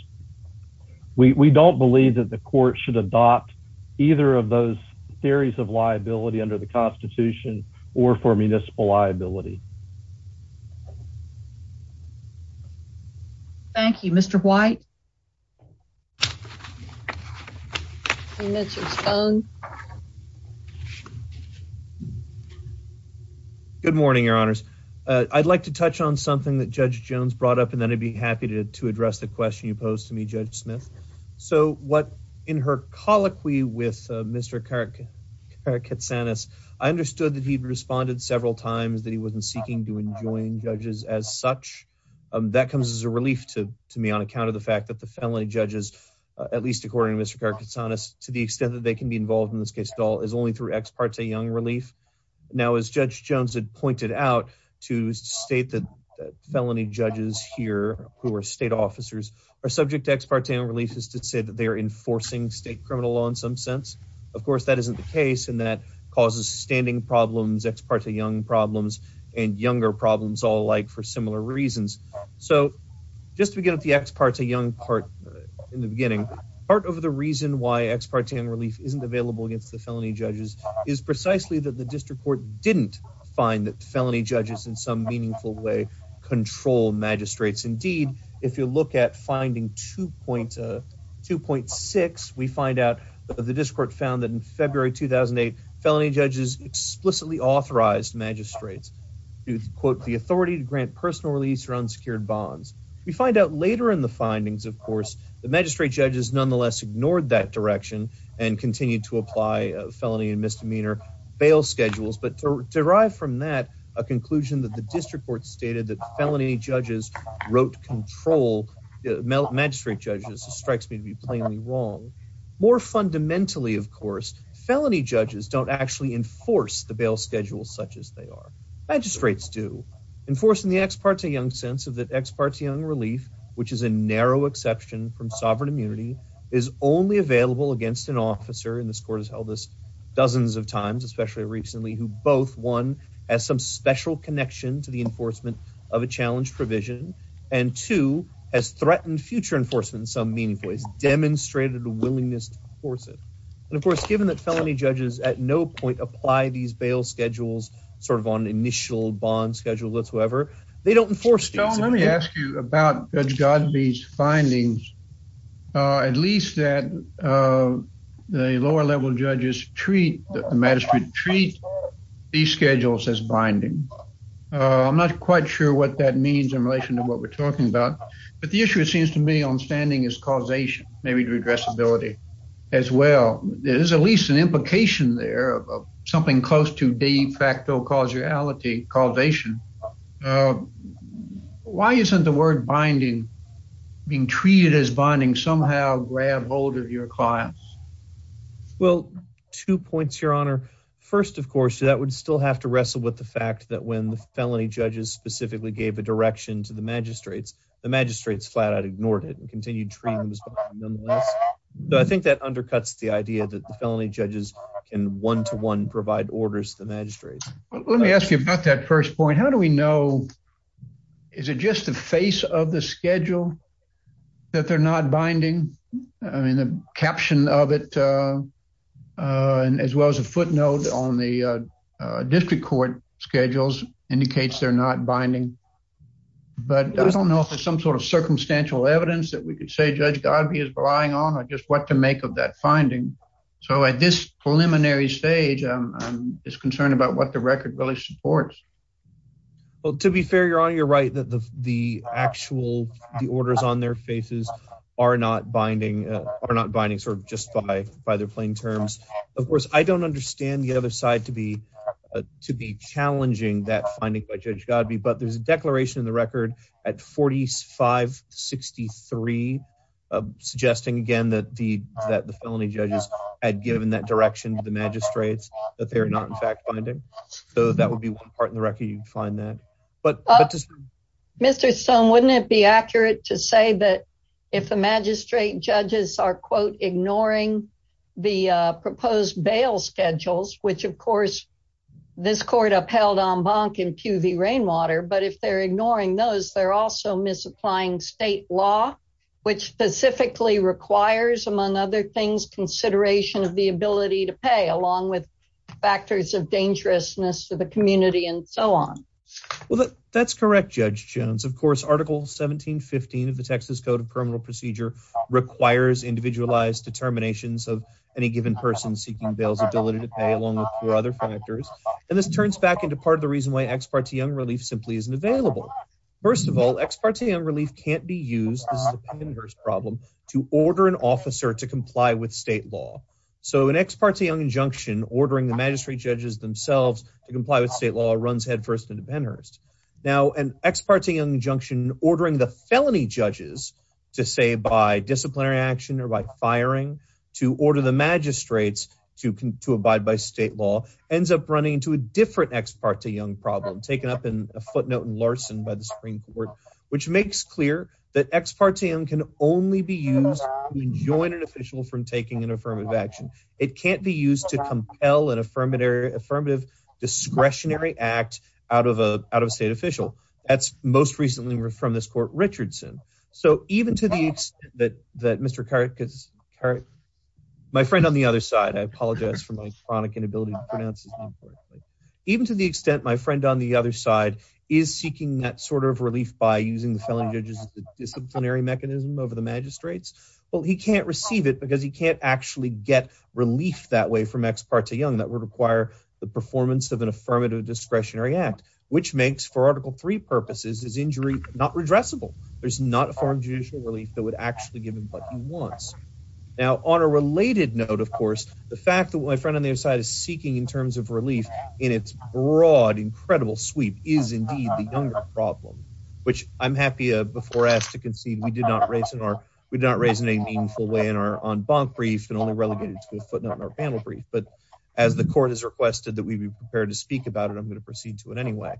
We don't believe that the court should adopt either of those theories of liability under the Constitution or for municipal liability. Thank you. Mr. White? Good morning, Your Honors. I'd like to touch on something that Judge Jones brought up, and then I'd be happy to address the question you posed to me, Judge Smith. So, what in her colloquy with Mr. Katsanis, I understood that he'd responded several times that he wasn't seeking to enjoin judges as such. That comes as a relief to me, on account of the fact that the felony judges, at least according to Mr. Katsanis, to the extent that they can be involved in this case at all is only through ex parte young relief. Now, as Judge Jones had pointed out to state that felony judges here who are state officers are subject to ex parte releases to say that they're enforcing state criminal law in some sense. Of course, that isn't the case, and that causes standing problems, ex parte young problems, and younger problems all alike for similar reasons. So, just to get the ex parte young part in the beginning, part of the reason why ex parte and relief isn't available against the felony judges is precisely that the district court didn't find that felony judges in some meaningful way control magistrates. Indeed, if you look at finding 2.6, we find out the district court found that in February 2008, felony judges explicitly authorized magistrates to, quote, the authority to grant personal release or unsecured bonds. We find out later in the findings, of course, the magistrate judges nonetheless ignored that direction and continued to apply felony and misdemeanor bail schedules, but derived from that, a conclusion that the district court stated that felony judges wrote control, magistrate judges, strikes me to be wrong. More fundamentally, of course, felony judges don't actually enforce the bail schedule such as they are. Magistrates do. Enforcing the ex parte young sense of the ex parte young relief, which is a narrow exception from sovereign immunity, is only available against an officer, and this court has held this dozens of times, especially recently, who both, one, has some special connection to the enforcement of a challenge provision, and two, has threatened future enforcement in some meaningful ways, demonstrated a willingness to enforce it. And of course, given that felony judges at no point apply these bail schedules, sort of on initial bond schedule, whatsoever, they don't enforce it. So let me ask you about Judge Godbee's findings, at least that the lower level judges treat, magistrate treat, these schedules as binding. I'm not quite sure what that means in relation to what we're talking about, but the issue, it seems to me, on standing is causation, maybe to address ability as well. There's at least an implication there of something close to de facto causality, causation. Why isn't the word binding, being treated as binding, somehow grab hold of your clients? Well, two points, your honor. First, of course, that would still have to wrestle with the fact that when the felony judges specifically gave a direction to the magistrates, the magistrates flat out ignored it and continued to treat them as binding. But I think that undercuts the idea that the felony judges can one-to-one provide orders to the magistrates. Let me ask you about that first point. How do we know, is it just the face of the schedule that they're not binding? I mean, the caption of it, as well as a footnote on the district court schedules, indicates they're not binding. But I don't know if there's some sort of circumstantial evidence that we could say, Judge Godbey is relying on, or just what to make of that finding. So at this preliminary stage, I'm just concerned about what the record really supports. Well, to be fair, your honor, you're right that the actual orders on their faces are not binding just by their plain terms. Of course, I don't understand the other side to be challenging that finding by Judge Godbey, but there's a declaration in the record at 4563 suggesting, again, that the felony judges had given that direction to the magistrates that they're not, in fact, binding. So that would be one part in the record you'd find that. Mr. Stone, wouldn't it be accurate to say that if the magistrate judges are, quote, ignoring the proposed bail schedules, which, of course, this court upheld en banc in QV Rainwater, but if they're ignoring those, they're also misapplying state law, which specifically requires, among other things, consideration of the ability to pay, along with factors of That's correct, Judge Jones. Of course, Article 1715 of the Texas Code of Criminal Procedure requires individualized determinations of any given person seeking bail's ability to pay, along with other factors. And this turns back into part of the reason why Ex parte Young Relief simply isn't available. First of all, Ex parte Young Relief can't be used, this is a plaintiff's problem, to order an officer to comply with state law. So an ex parte on injunction ordering the Now, an ex parte injunction ordering the felony judges to say by disciplinary action or by firing to order the magistrates to abide by state law ends up running into a different ex parte young problem, taken up in a footnote in Larson by the Supreme Court, which makes clear that ex parte young can only be used to enjoin an official from taking an affirmative action. It can't be used to That's most recently from this court, Richardson. So even to the extent that Mr. Carrick, my friend on the other side, I apologize for my phonic inability to pronounce his name, even to the extent my friend on the other side is seeking that sort of relief by using the felony judges disciplinary mechanism over the magistrates, well, he can't receive it because he can't actually get relief that way from ex parte young that would require the performance of an affirmative discretionary act, which makes for article three purposes is injury not redressable. There's not a foreign judicial relief that would actually give him what he wants. Now, on a related note, of course, the fact that my friend on the other side is seeking in terms of relief in its broad, incredible sweep is indeed the younger problem, which I'm happy before us to concede we did not raise in our, we did not raise in a meaningful way in our on bond brief and only relevant to a footnote in our panel brief. But as the court has requested that we be prepared to speak about anyway,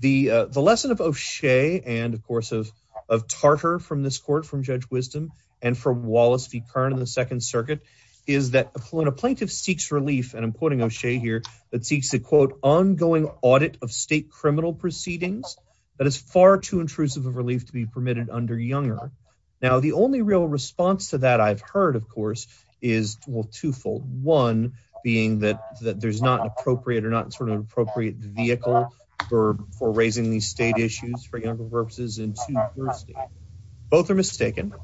the, the lesson of O'Shea and of course, of, of Tartar from this court from judge wisdom and from Wallace be current in the second circuit is that when a plaintiff seeks relief, and I'm putting O'Shea here that seeks to quote ongoing audit of state criminal proceedings, that is far too intrusive of relief to be permitted under younger. Now, the only real response to that I've heard, of course, is twofold. One being that there's not appropriate or not sort of appropriate vehicle for, for raising these state issues for younger purposes. And both are mistaken.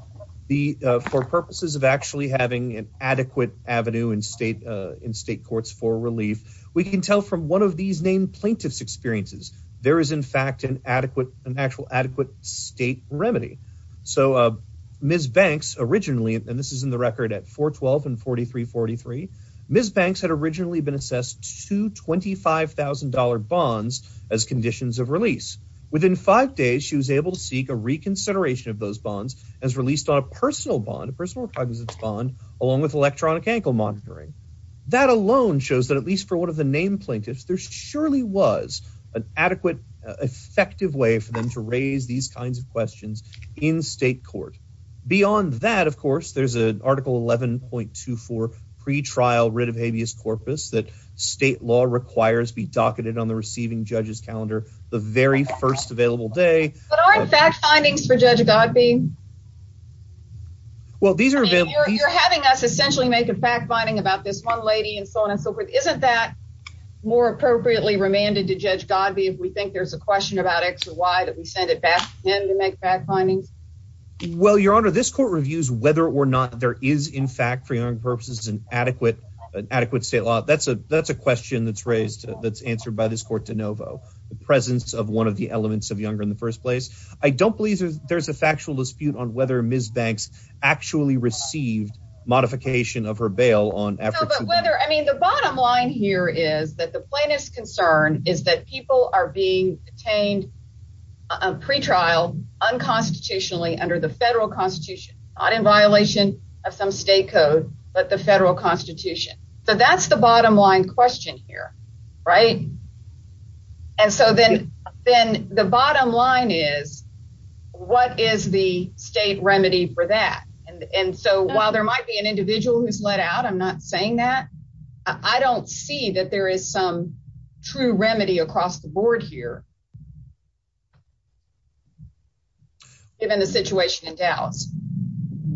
The, for purposes of actually having an adequate avenue and state in state courts for relief, we can tell from one of these named plaintiffs experiences, there is in fact, an adequate, an actual adequate state remedy. So Ms. Banks originally, and this is in the record at 412 and 4343, Ms. Banks had originally been assessed to $25,000 bonds as conditions of release. Within five days, she was able to seek a reconsideration of those bonds as released on a personal bond, a personal private bond, along with electronic ankle monitoring. That alone shows that at least for one of the named plaintiffs, there surely was an adequate, effective way for them to for pre-trial writ of habeas corpus that state law requires be docketed on the receiving judges calendar, the very first available day. Well, these are essentially make a fact finding about this one lady and so on and so forth. Isn't that more appropriately remanded to judge Godby, if we think there's a question about X or Y that we send it back in to make fact finding. Well, Your Honor, this court reviews whether or not there is in fact, for your purposes, an adequate, adequate state law. That's a, that's a question that's raised, that's answered by this court de novo, the presence of one of the elements of younger in the first place. I don't believe there's a factual dispute on whether Ms. Banks actually received modification of her bail on. I mean, the bottom line here is that the plaintiff's concern is that people are being detained pre-trial unconstitutionally under the federal constitution, not in violation of some state code, but the federal constitution. So that's the bottom line question here, right? And so then, then the bottom line is, what is the state remedy for that? And so while there might be an individual who's let out, I'm not saying that. I don't see that there is some true remedy across the board here, given the situation in Dallas.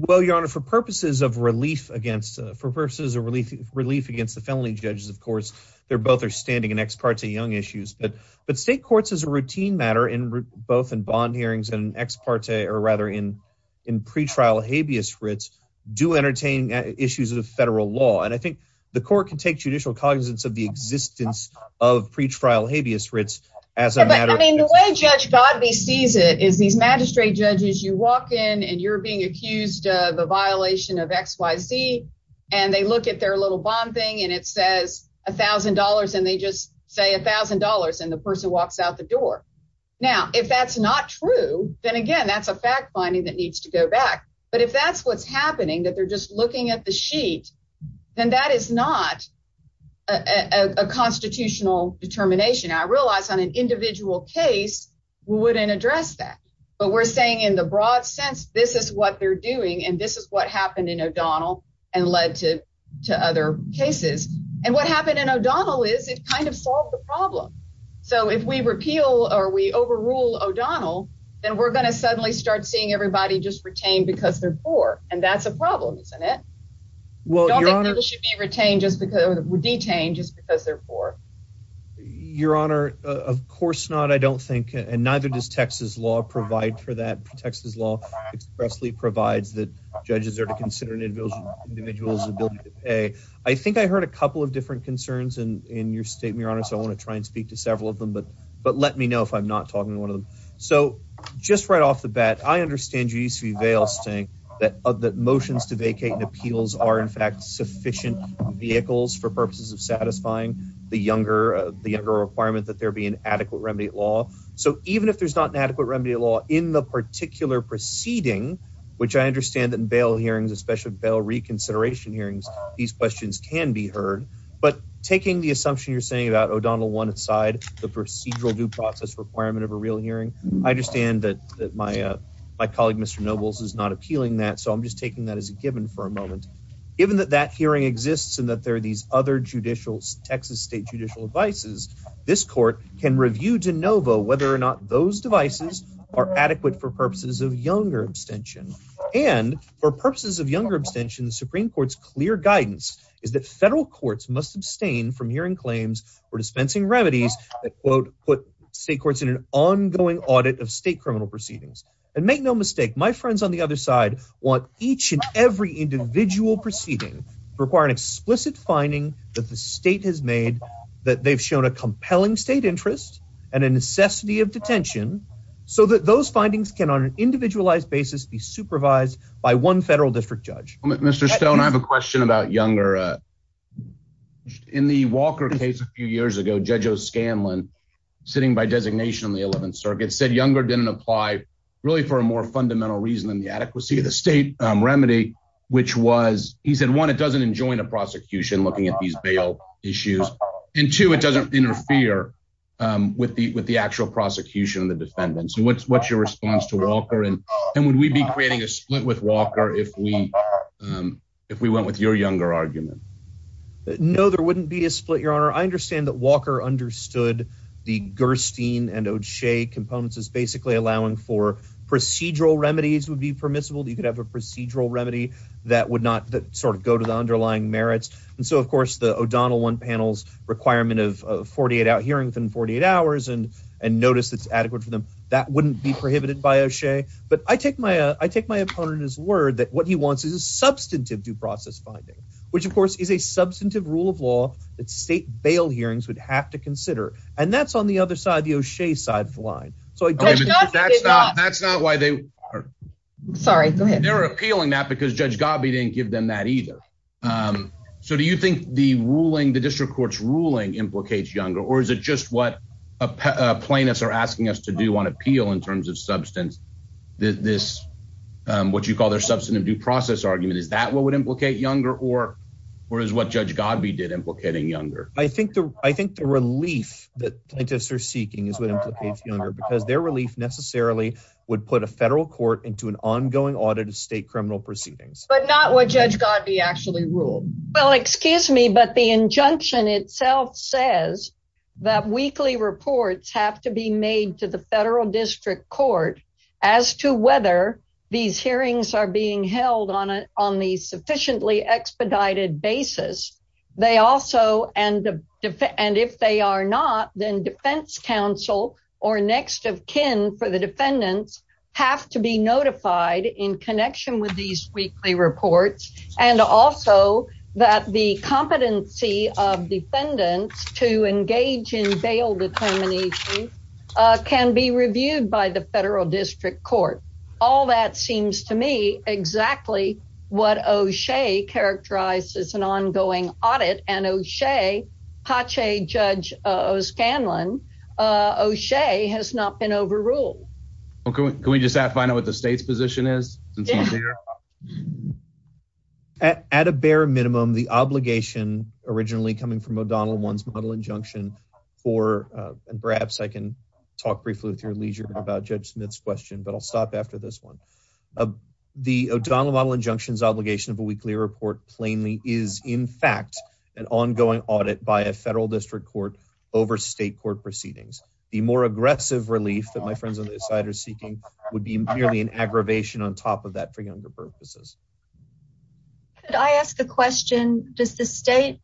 Well, Your Honor, for purposes of relief against, for purposes of relief, relief against the felony judges, of course, they're both outstanding in ex parte young issues, but, but state courts as a routine matter in both in bond hearings and ex parte or rather in, in pre-trial habeas grits do entertain issues of federal law. And I think the court can take judicial cognizance of the existence of pre-trial habeas grits. I mean, the way judge Godley sees it is these magistrate judges, you walk in and you're being accused of a violation of X, Y, Z, and they look at their little bond thing and it says a thousand dollars and they just say a thousand dollars and the person walks out the door. Now, if that's not true, then again, that's a fact finding that needs to go back. But if that's what's happening, that they're just looking at the sheet, then that is not a constitutional determination. I realize on an individual case, we wouldn't address that, but we're saying in the broad sense, this is what they're doing and this is what happened in O'Donnell and led to, to other cases. And what happened in O'Donnell is it kind of solved the problem. So if we repeal or we overrule O'Donnell, then we're going to suddenly start seeing everybody just retained because they're poor. And that's a problem, isn't it? Well, your honor should be retained just because it would be changed just because they're poor. Your honor. Of course not. I don't think, and neither does Texas law provide for that. Texas law expressly provides that judges are to consider an individual's ability to pay. I think I heard a couple of different concerns in your statement, your honor. So I want to try and speak to several of them, but, but let me know if I'm not talking to one of them. So just right off the bat, I understand you used to be veiled saying that of the motions to vacate and appeals are in fact sufficient vehicles for purposes of satisfying the younger, the younger requirement that there be an adequate remedy law. So even if there's not an adequate remedy law in the particular proceeding, which I understand that in bail hearings, especially bail reconsideration hearings, these questions can be heard, but taking the assumption you're saying about O'Donnell one side, the procedural due process requirement of a real hearing. I understand that that my, uh, my colleague, Mr. Nobles is not appealing that. So I'm just taking that as a given for a moment, given that that hearing exists and that there are these other judicial Texas state judicial devices, this court can review to Nova, whether or not those devices are adequate for purposes of younger abstention. And for purposes of younger abstentions, Supreme court's clear guidance is that federal courts must abstain from hearing claims for dispensing remedies that quote, put state courts in an ongoing audit of state criminal proceedings and make no mistake. My friends on the other side want each and every individual proceeding required explicit finding that the state has made that they've shown a compelling state interests and a necessity of detention. So that those findings can on an individualized basis be supervised by one federal district judge. Mr. Stone, I have a question about younger. In the Walker case a few years ago, judge O'Scanlan sitting by designation in the 11th circuit said younger didn't apply really for a more fundamental reason than the adequacy of the state remedy, which was, he said, one, it doesn't enjoin a prosecution looking at these bail issues and two, it doesn't interfere with the, with the actual prosecution, the defendants. And what's, what's your response to Walker? And, and would we be creating a split with Walker if we, if we went with your younger argument? No, there wouldn't be a split your honor. I understand that Walker understood the Gerstein and O'Shea components is basically allowing for procedural remedies would be permissible. You could have a procedural remedy that would not sort of go to the underlying merits. And so of course the O'Donnell one panels requirement of 48 out hearings and 48 hours and, and notice that's adequate for them. That wouldn't be substantive due process finding, which of course is a substantive rule of law that state bail hearings would have to consider. And that's on the other side, the O'Shea side of the line. So that's not why they are appealing that because judge Gobby didn't give them that either. So do you think the ruling, the district court's ruling implicates younger, or is it just what plaintiffs are asking us to do on appeal in terms of substance? This what you call their process argument is that what would implicate younger or whereas what judge God, we did implicating younger. I think the, I think the relief that I guess they're seeking is younger because their relief necessarily would put a federal court into an ongoing audit of state criminal proceedings, but not what judge God actually ruled. Well, excuse me, but the injunction itself says that weekly reports have to be made to the federal district court as to whether these on the sufficiently expedited basis. They also, and the, and if they are not then defense council or next of kin for the defendants have to be notified in connection with these weekly reports. And also that the competency of defendants to engage in bail determination can be reviewed by the federal district court. All that seems to me exactly what O'Shea characterized as an ongoing audit and O'Shea judge O'Scanlan O'Shea has not been overruled. Okay. Can we just have final with the state's position is at a bare minimum, the obligation originally coming from about judge Smith's question, but I'll stop after this one, the O'Donnell model injunctions obligation of a weekly report plainly is in fact, an ongoing audit by a federal district court over state court proceedings, the more aggressive relief that my friends on this side are seeking would be nearly an aggravation on top of that for younger purposes. Could I ask a question? Does the state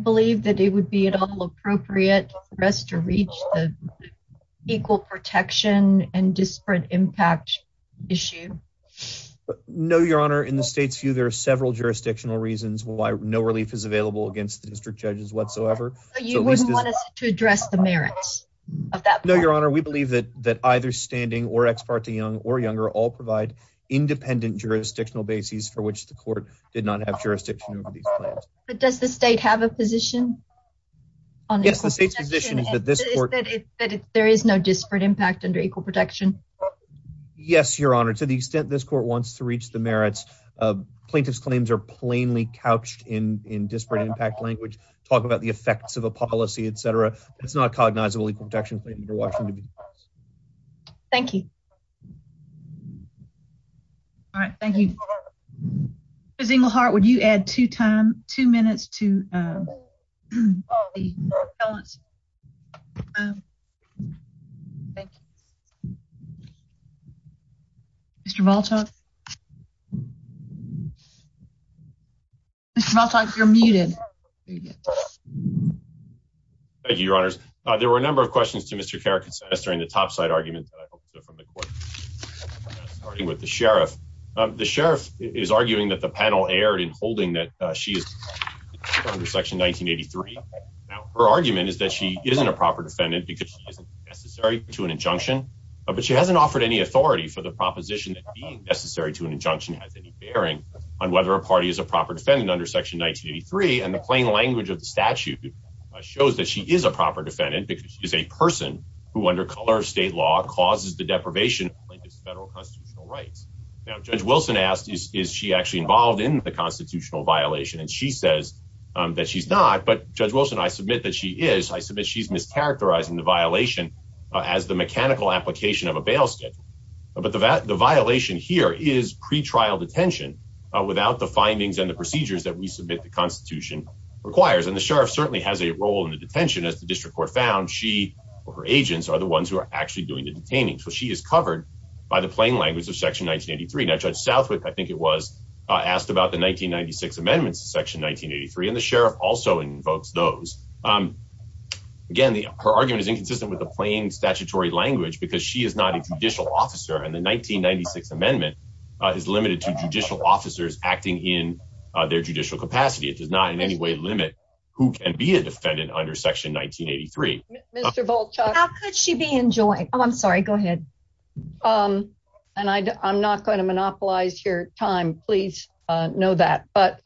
believe that it would be at all appropriate for us to reach equal protection and disparate impact issue? No, your honor. In the state's view, there are several jurisdictional reasons why no relief is available against the district judges whatsoever. You wouldn't want us to address the merits of that? No, your honor. We believe that either standing or ex parte young or younger all provide independent jurisdictional bases for which the court did not have jurisdiction. Does the state have a position? Yes, the state's position is that there is no disparate impact under equal protection. Yes, your honor. To the extent this court wants to reach the merits of plaintiff's claims are plainly couched in disparate impact language. Talk about the effects of a policy, et cetera. It's not cognizable. Thank you. All right. Thank you. Mr. Zinglehart, would you add two minutes to... Mr. Voltock? Mr. Voltock, you're muted. Thank you, your honors. There were a number of questions to Mr. Carrick during the topside arguments that I've heard from the court. Starting with the sheriff. The sheriff is arguing that the panel erred in holding that she is under section 1983. Her argument is that she isn't a proper defendant because she isn't necessary to an injunction, but she hasn't offered any authority for the proposition that being necessary to an injunction has any bearing on whether a party is a proper defendant under section 1983. And the plain language of the statute shows that she is a proper defendant because she is a person who, under color of state law, causes the deprivation of federal constitutional rights. Now, Judge Wilson asked, is she actually involved in the constitutional violation? And she says that she's not, but Judge Wilson, I submit that she is. I submit she's mischaracterizing the violation as the mechanical application of a bail statement. But the violation here is pretrial detention without the findings and the procedures that we submit the constitution requires. And the sheriff certainly has a role in the detention. As the district court found, she or her agents are the ones who are actually doing the detaining. So she is covered by the plain language of section 1983. Now, Judge Salford, I think it was, asked about the 1996 amendments to section 1983. And the sheriff also invokes those. Again, her argument is inconsistent with the plain statutory language because she is not a judicial officer. And the 1996 amendment is limited to judicial officers acting in their judicial capacity. It does not in any way limit who can be a defendant under section 1983. How could she be enjoined? Oh, I'm sorry. Go ahead. And I'm not going to monopolize your time. Please know that. But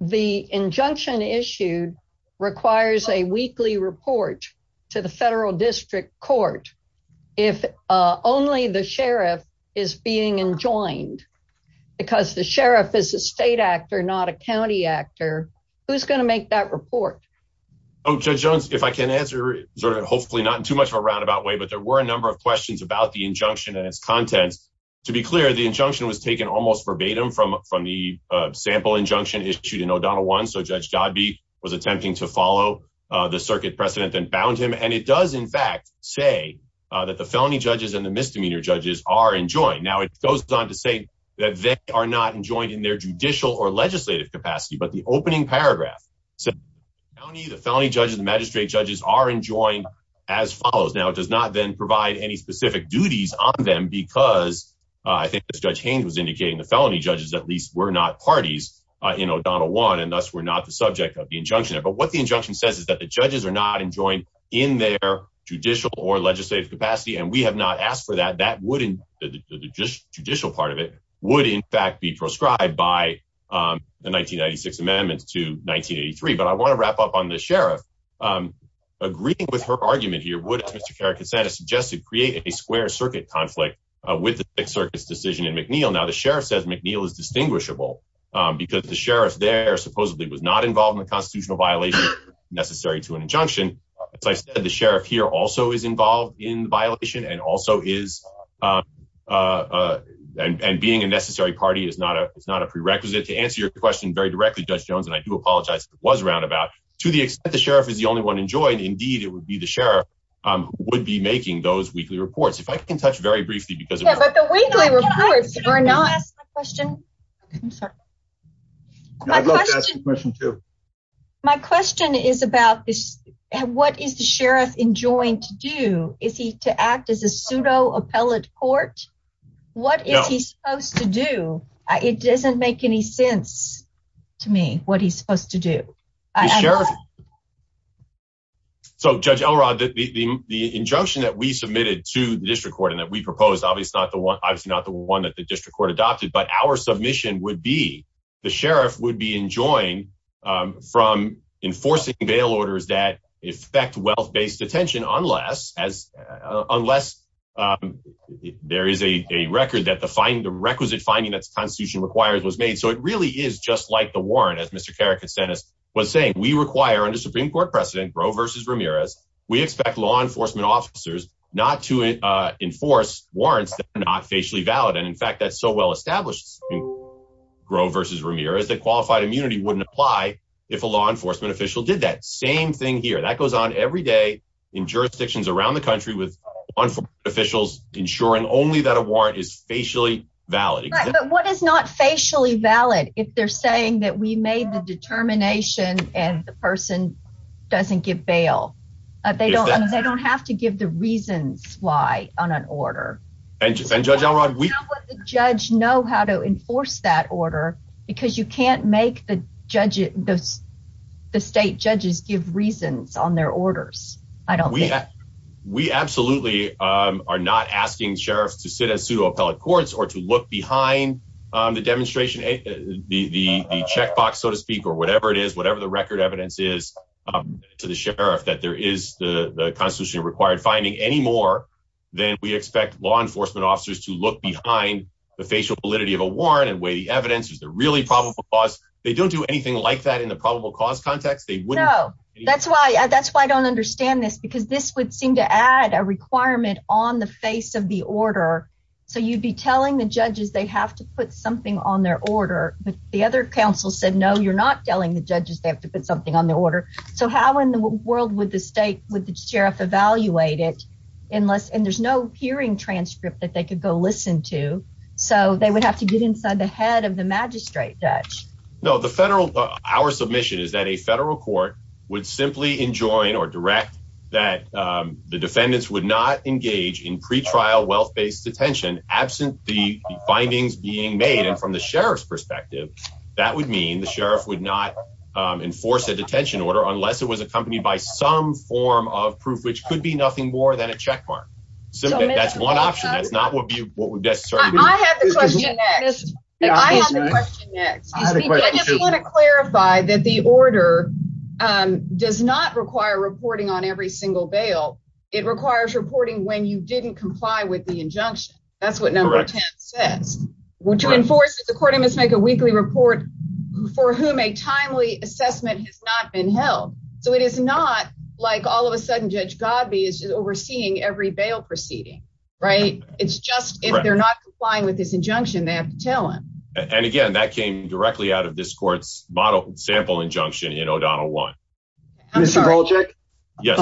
the injunction issued requires a weekly report to the federal district court. If only the sheriff is being enjoined, because the sheriff is a state actor, not a county actor, who's going to make that report? Judge Jones, if I can answer, hopefully not in too much of a roundabout way, but there were a number of questions about the injunction and its content. To be clear, the injunction was taken almost verbatim from the sample injunction issued in O'Donnell 1. So Judge Dodby was attempting to follow the circuit precedent that bound him. And it does, in fact, say that the felony judges and the misdemeanor judges are enjoined. Now, it goes on to say that they are not enjoined in their judicial or legislative capacity, but the opening paragraph said, the felony judges and magistrate judges are enjoined as follows. Now, it does not then provide any specific duties on them, because I think Judge Haynes was indicating the felony judges, at least, were not parties in O'Donnell 1, and thus were not the subject of the injunction. But what the injunction says is that the judges are not enjoined in their judicial or legislative capacity. And we have not asked for that. The judicial part of it would, in fact, be proscribed by the 1996 amendments to 1983. But I want to wrap up on the sheriff. Agreeing with her argument here, Wood, as Mr. Carrick has said, has suggested creating a square circuit conflict with the Sixth Circuit's decision in McNeil. Now, the sheriff says McNeil is distinguishable, because the sheriff there supposedly was not involved in the constitutional violation necessary to an injunction. But the sheriff here also is involved in the violation, and being a necessary party is not a prerequisite. To answer your question very directly, Judge Jones, and I do apologize if it was roundabout, to the extent the sheriff is the only one enjoined, indeed, it would be the sheriff who would be making those weekly reports. If I can touch very briefly, because— Yeah, but the weekly reports are not— Can I ask a question? I'm sorry. Yeah, I'd love to ask a question, too. My question is about what is the sheriff enjoined to do? Is he to act as a pseudo-appellate court? What is he supposed to do? It doesn't make any sense to me what he's supposed to do. So, Judge Elrod, the injunction that we submitted to the district court and that we proposed, obviously not the one that the district court adopted, but our submission would be the sheriff would be enjoined from enforcing bail orders that affect wealth-based detention, unless there is a record that the requisite finding that the Constitution requires was made. So it really is just like the warrant, as Mr. Karakasenis was saying. We require, under Supreme Court precedent, Gros versus Ramirez, we expect law enforcement officers not to enforce warrants that are not facially valid. And in fact, that's so well established, Gros versus Ramirez, that qualified immunity wouldn't apply if a law enforcement official did that. Same thing here. That goes on every day in jurisdictions around the country with law enforcement officials ensuring only that a warrant is facially valid. But what is not facially valid if they're saying that we made the determination and the person doesn't give bail? They don't have to give the reasons why on an order. And Judge Auerbach, we... How would the judge know how to enforce that order? Because you can't make the state judges give reasons on their orders. I don't think. We absolutely are not asking sheriffs to sit in pseudo-appellate courts or to look behind the demonstration, the checkbox, so to speak, or whatever it is, whatever the record evidence is to the sheriff that there is the Constitution required finding any more than we expect law enforcement officers to look behind the facial validity of a warrant and weigh the evidence. Is it really probable cause? They don't do anything like that in a probable cause context. No. That's why I don't understand this because this would seem to add a requirement on the face of the order. So you'd be telling the judges they have to put something on their order. The other counsel said, no, you're not telling the judges they have to put something on their order. So how in the world would the sheriff evaluate it unless... And there's no hearing transcript that they could go listen to. So they would have to get inside the head of the magistrate judge. No, the federal... Our submission is that a federal court would simply enjoin or direct that the defendants would not engage in pretrial wealth-based detention absent the findings being made from the sheriff's perspective. That would mean the sheriff would not enforce a detention order unless it was accompanied by some form of proof, which could be nothing more than a checkmark. That's one option. That's not what would be... I have a question next. I just want to clarify that the order does not require reporting on every single bail. It requires reporting when you didn't comply with the injunction. That's what number 10 says. Which enforces the court must make a weekly report for whom a timely assessment has not been held. So it is not like all of a sudden Judge Godby is overseeing every bail proceeding, right? It's just if they're not complying with this injunction, they have to tell him. And again, that came directly out of this court's model sample injunction in O'Donnell 1. Mr. Bolchek? Yes.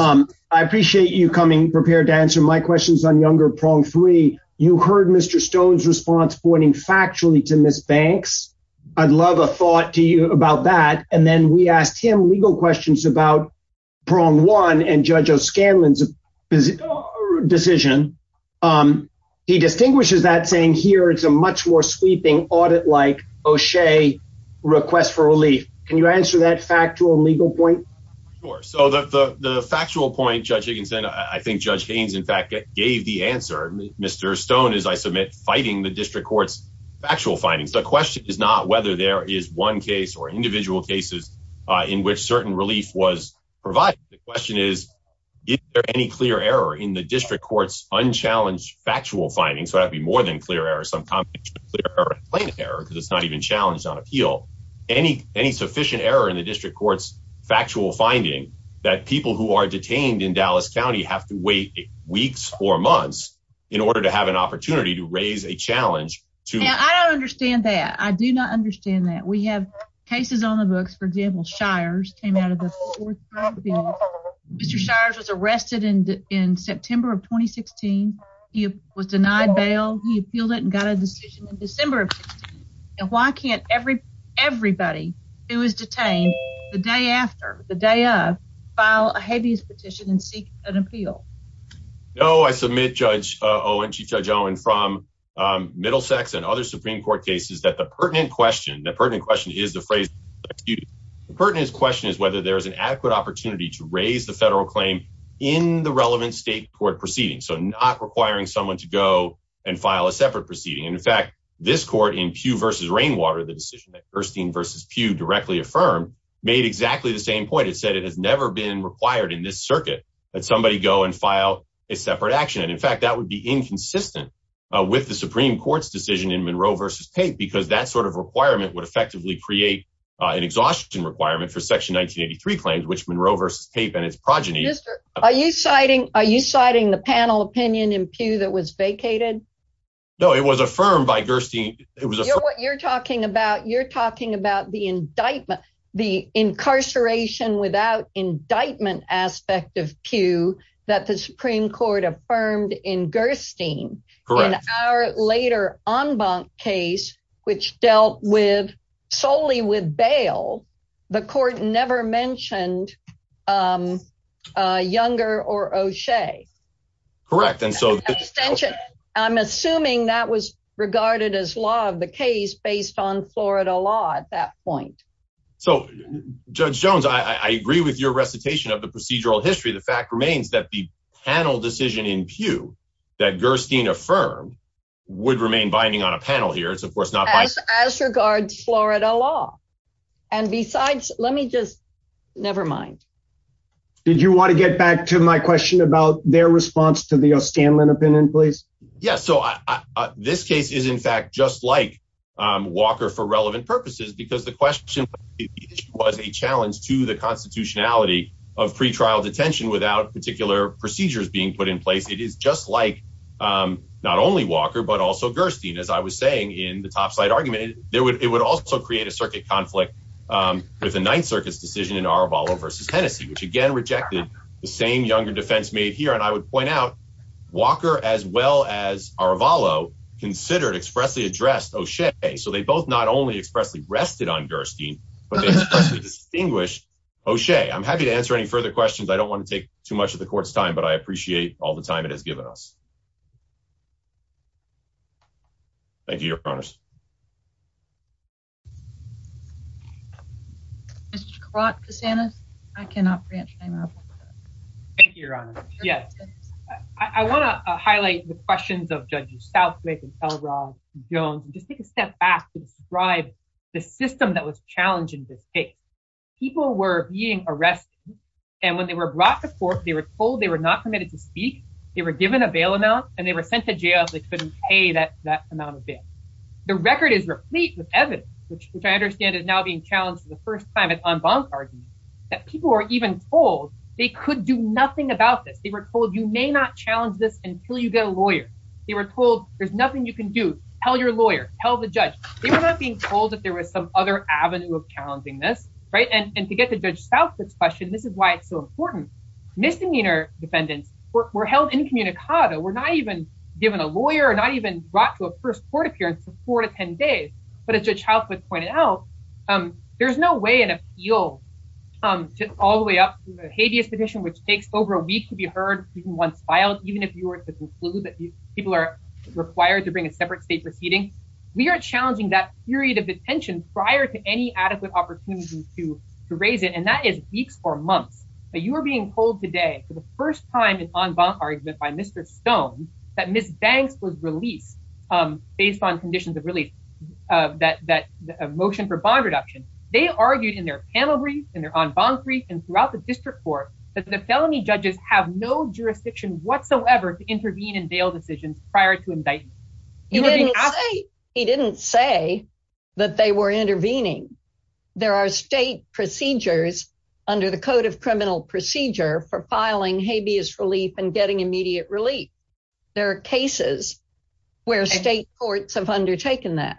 I appreciate you coming prepared to answer my questions on Younger Prong 3. You heard Mr. Stone's response pointing factually to Ms. Banks. I'd love a thought to you about that. And then we asked him legal questions about Prong 1 and Judge O'Scanlan's decision. He distinguishes that saying here it's a much more sweeping audit-like O'Shea request for relief. Can you answer that factual legal point? Sure. So the factual point, Judge Higginson, I think Judge Gaines, in fact, gave the answer. Mr. Stone, as I submit, fighting the district court's factual findings. The question is not whether there is one case or individual cases in which certain relief was provided. The question is, is there any clear error in the district court's unchallenged factual findings? So that'd be more than clear error. Sometimes it's plain error because it's not even challenged on appeal. Any sufficient error in the district court's factual findings that people who are detained in Dallas County have to wait weeks or months in order to have an opportunity to raise a challenge. I don't understand that. I do not understand that. We have cases on the books. For example, Shires came out of the fourth trial. Mr. Shires was arrested in September of 2016. He was denied bail. He appealed it and got a decision in December. Why can't everybody who was detained the day after, the day of, file a heavy petition and seek an appeal? No, I submit Judge Owen, Chief Judge Owen, from Middlesex and other Supreme Court cases that the pertinent question, the pertinent question is the phrase, the pertinent question is whether there is an adequate opportunity to raise the federal claim in the relevant state court proceeding. So not requiring someone to go and file a separate proceeding. In fact, this court in Pugh v. Rainwater, the decision that Gerstein v. Pugh directly affirmed, made exactly the same point. It said it had never been required in this circuit that somebody go and file a separate action. In fact, that would be inconsistent with the Supreme Court's decision in Monroe v. Pape because that sort of requirement would effectively create an exhaustion requirement for Section 1983 claims, which Monroe v. Pape and its progeny- Are you citing the panel opinion in Pugh that was vacated? No, it was affirmed by Gerstein. You're talking about the incarceration without indictment aspect of Pugh that the Supreme Court affirmed in Gerstein. Correct. In our later en banc case, which dealt solely with bail, the court never mentioned Younger or O'Shea. Correct. I'm assuming that was regarded as law of the case based on Florida law at that point. So Judge Jones, I agree with your recitation of the procedural history. The fact remains that the panel decision in Pugh that Gerstein affirmed would remain binding on a panel here. It's of course not- As regards Florida law. And besides, let me just, nevermind. Did you want to get back to my question about their response to the O'Scanlan opinion, please? Yeah. So this case is in fact just like Walker for relevant purposes because the question was a challenge to the constitutionality of pre-trial detention without particular procedures being put in place. It is just like not only Walker, but also Gerstein, as I was saying in the topside argument, it would also create a circuit conflict with the Ninth Circuit's decision in Arabalo v. Hennessey, which again rejected the same Younger defense made here. And I would point out Walker as well as Arabalo considered expressly addressed O'Shea. So they both not only expressly rested on Gerstein, but they distinguished O'Shea. I'm happy to answer any further questions. I don't want to take too much of the court's time, but I appreciate all the time it has given us. Thank you. Your promise. I want to highlight the questions of Judges Southwick and Pellegrau and Jones and just take a step back to describe the system that was challenged in this case. People were being arrested and when they were brought to court, they were told they were not permitted to speak. They were given a bail amount and they were sent to jail if they couldn't pay that amount of bail. Evidence, which I understand is now being challenged for the first time, it's on bond bargaining, that people were even told they could do nothing about this. They were told you may not challenge this until you get a lawyer. They were told there's nothing you can do. Tell your lawyer, tell the judge. They were not being told that there was some other avenue of challenging this, right? And to get to Judge Southwick's question, this is why it's so important. Misdemeanor defendants were held incommunicado. We're not even given a lawyer or not even brought to a first court appearance for four to ten days, but as Judge Southwick pointed out, there's no way an appeal all the way up to the habeas petition, which takes over a week to be heard, even once filed, even if you were to conclude that people are required to bring a separate state proceeding. We are challenging that period of detention prior to any adequate opportunity to raise it and that is weeks or months. You are being told today for the first time in an en banc argument by Mr. Stone that Ms. Banks was released based on conditions of motion for bond reduction. They argued in their panel briefs and their en banc briefs and throughout the district court that the felony judges have no jurisdiction whatsoever to intervene in bail decisions prior to indictment. He didn't say that they were intervening. There are state procedures under the Code of Criminal Procedure for filing habeas relief and getting immediate relief. There are cases where state courts have undertaken that.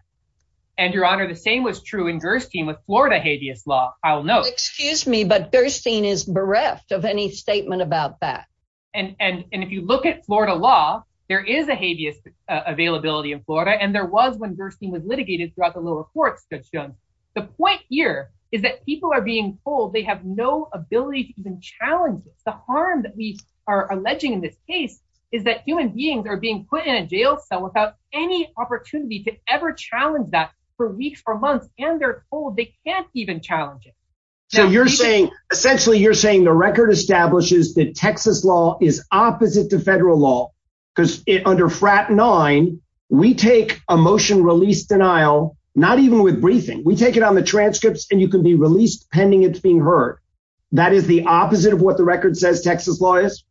And, Your Honor, the same was true in Gerstein with Florida habeas law. I'll note. Excuse me, but Gerstein is bereft of any statement about that. And if you look at Florida law, there is a habeas availability in Florida and there was when Gerstein was litigated throughout the lower court system. The point here is that people are told they have no ability to even challenge it. The harm that we are alleging in this case is that human beings are being put in a jail cell without any opportunity to ever challenge that for weeks or months. And they're told they can't even challenge it. So you're saying, essentially, you're saying the record establishes that Texas law is opposite to federal law. Because under FRAT 9, we take a motion release denial, not even with briefing. We take it on the transcripts and you can be released pending it's being heard. That is the opposite of what the record says Texas law is?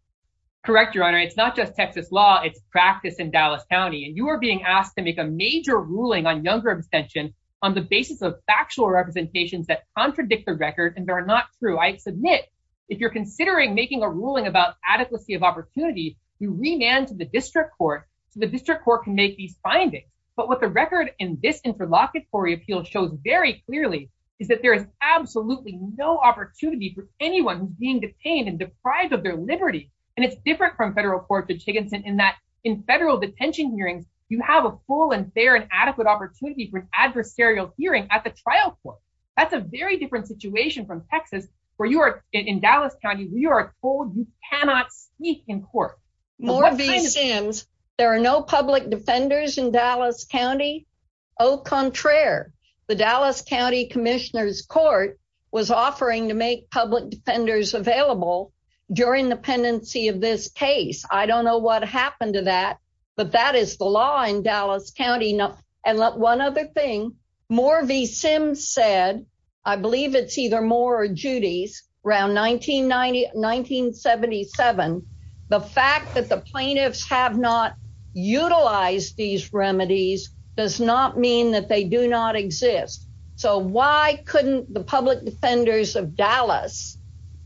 Correct, Your Honor. It's not just Texas law. It's practice in Dallas County. And you are being asked to make a major ruling on young representation on the basis of factual representations that contradict the record. And they're not true. I submit, if you're considering making a ruling about adequacy of opportunity, you remand to the district court. The district court can make these findings. But what the record in this interlocutory appeal shows very clearly is that there is absolutely no opportunity for anyone who's being detained and deprived of their liberty. And it's different from federal courts in Chickenson in that in federal detention hearings, you have a full and fair and adequate opportunity for an adversarial hearing at the trial court. That's a very different situation from Texas, where you are in Dallas County, where you are told you cannot speak in court. There are no public defenders in Dallas County? Au contraire. The commissioners court was offering to make public defenders available during the pendency of this case. I don't know what happened to that. But that is the law in Dallas County. And let one other thing, more v. Sims said, I believe it's either more or Judy's around 1990 1977. The fact that the plaintiffs have not utilized these remedies does not mean that they do not exist. So why couldn't the public defenders of Dallas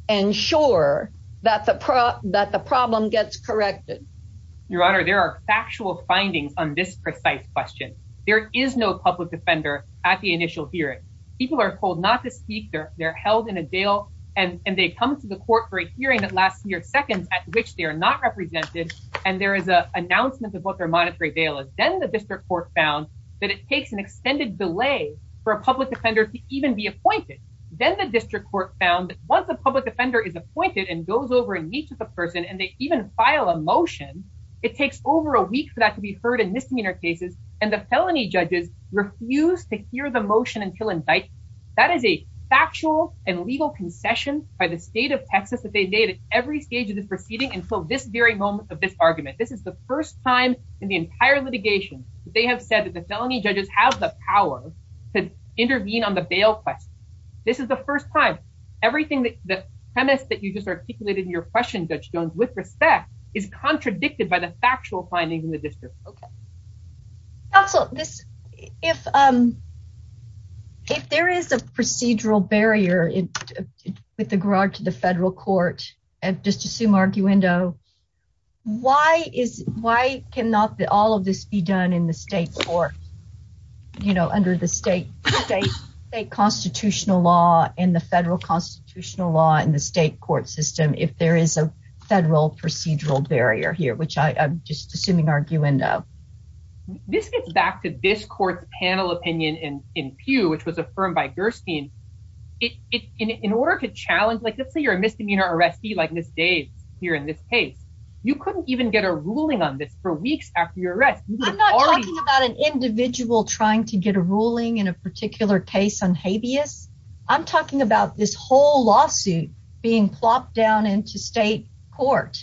ensure that the prop that the problem gets corrected? Your Honor, there are factual findings on this precise question. There is no public defender at the initial hearing. People are told not to speak there. They're held in a jail. And they and there is a announcement of what their monetary bail is, then the district court found that it takes an extended delay for a public defender to even be appointed. Then the district court found once a public offender is appointed and goes over and meets with a person and they even file a motion, it takes over a week for that to be heard in this near cases. And the felony judges refuse to hear the motion until in fact, that is a factual and legal concession by the every stage of the proceeding. And so this very moment of this argument, this is the first time in the entire litigation, they have said that the felony judges have the power to intervene on the bail claim. This is the first time, everything that the premise that you just articulated in your question that you don't with respect is contradicted by the factual findings in the district. Okay. Also, if if there is a procedural barrier in the garage to the federal court, just assume arguendo. Why is why cannot all of this be done in the state court? You know, under the state, state, state constitutional law in the federal constitutional law in the state court system, if there is a federal procedural barrier here, which I'm just assuming arguendo. This gets back to this court's panel opinion in in Pew, which was affirmed by like this day here in this case, you couldn't even get a ruling on this for weeks after you're right. I'm not talking about an individual trying to get a ruling in a particular case on habeas. I'm talking about this whole lawsuit being plopped down into state court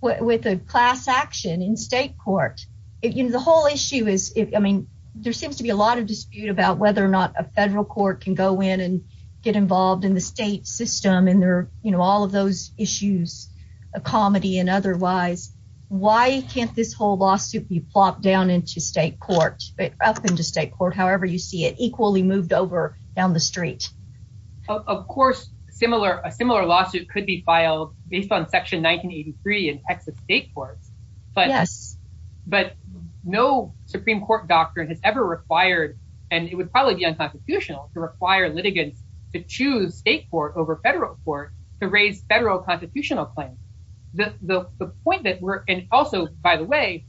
with a class action in state court. The whole issue is, I mean, there seems to be a lot of dispute about whether or not a federal court can go in and get involved in the state system. And there are all of those issues of comedy and otherwise. Why can't this whole lawsuit be plopped down into state court, up into state court, however you see it equally moved over down the street? Of course, a similar lawsuit could be filed based on Section 1983 in Texas state court. But but no Supreme Court doctrine has ever required, and it would probably be unconstitutional to require litigants to choose state court over federal court to raise federal constitutional claims. The point that we're and also, by the way,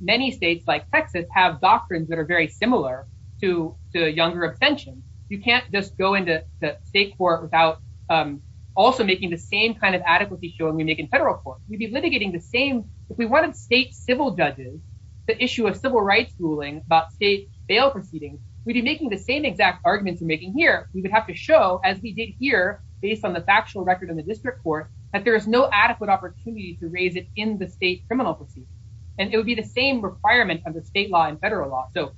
many states like Texas have doctrines that are very similar to the Younger Ascension. You can't just go into the state court without also making the same kind of adequacy show when we make a federal court. You'd be litigating the if we wanted state civil judges to issue a civil rights ruling about state bail proceedings, we'd be making the same exact arguments we're making here. We would have to show, as we did here, based on the factual record in the district court, that there is no adequate opportunity to raise it in the state criminal proceedings. And it would be the same requirement of the state law and federal law. So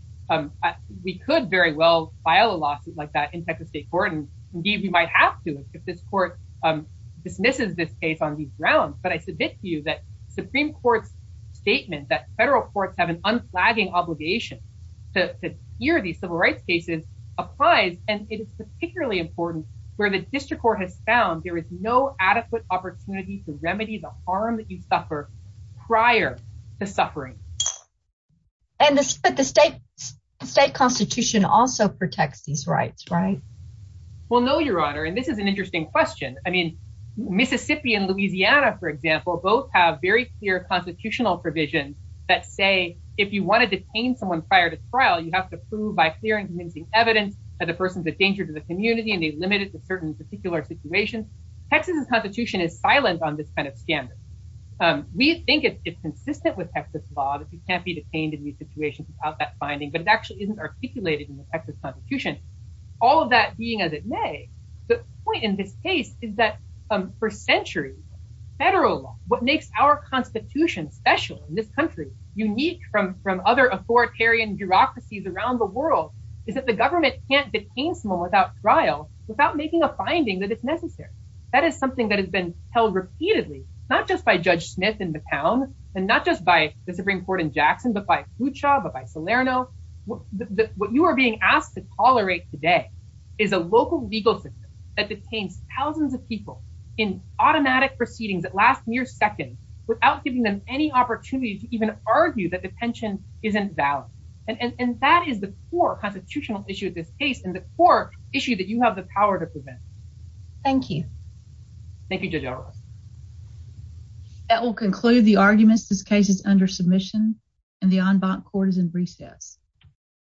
we could very well file a lawsuit like that in Texas state court. And indeed, we might have to if this court dismisses this case on these grounds. But I submit to you that Supreme Court statement that federal courts have an unflagging obligation to hear these civil rights cases applies. And it is particularly important where the district court has found there is no adequate opportunity to remedy the harm that you suffer prior to suffering. And the state constitution also protects these rights, right? Well, no, Your Honor. And this is an interesting question. I mean, Mississippi and Louisiana, for example, both have very clear constitutional provisions that say if you want to detain someone prior to trial, you have to prove by clear and convincing evidence that the person's a danger to the community and they're limited to certain particular situations. Texas constitution is silent on this kind of standard. We think it's consistent with Texas law that you can't be detained in these situations without that finding, but it actually isn't articulated in the Texas constitution. All of that being as it may, the point in this case is that for centuries, federal law, what makes our constitution special in this country, unique from other authoritarian bureaucracies around the world, is that the government can't detain someone without trial without making a finding that it's necessary. That is something that has been held repeatedly, not just by Judge Smith in the town and not just by the Supreme Court in Jackson, but by Kucha, but by Salerno. What you are being asked to tolerate today is a local legal system that detains thousands of people in automatic proceedings that last mere seconds without giving them any opportunity to even argue that detention isn't valid. And that is the core constitutional issue of this case and the core issue that you have the power to present. Thank you. Thank you, Judge O'Rourke. That will conclude the arguments. This case is under submission and the en banc court is in reset.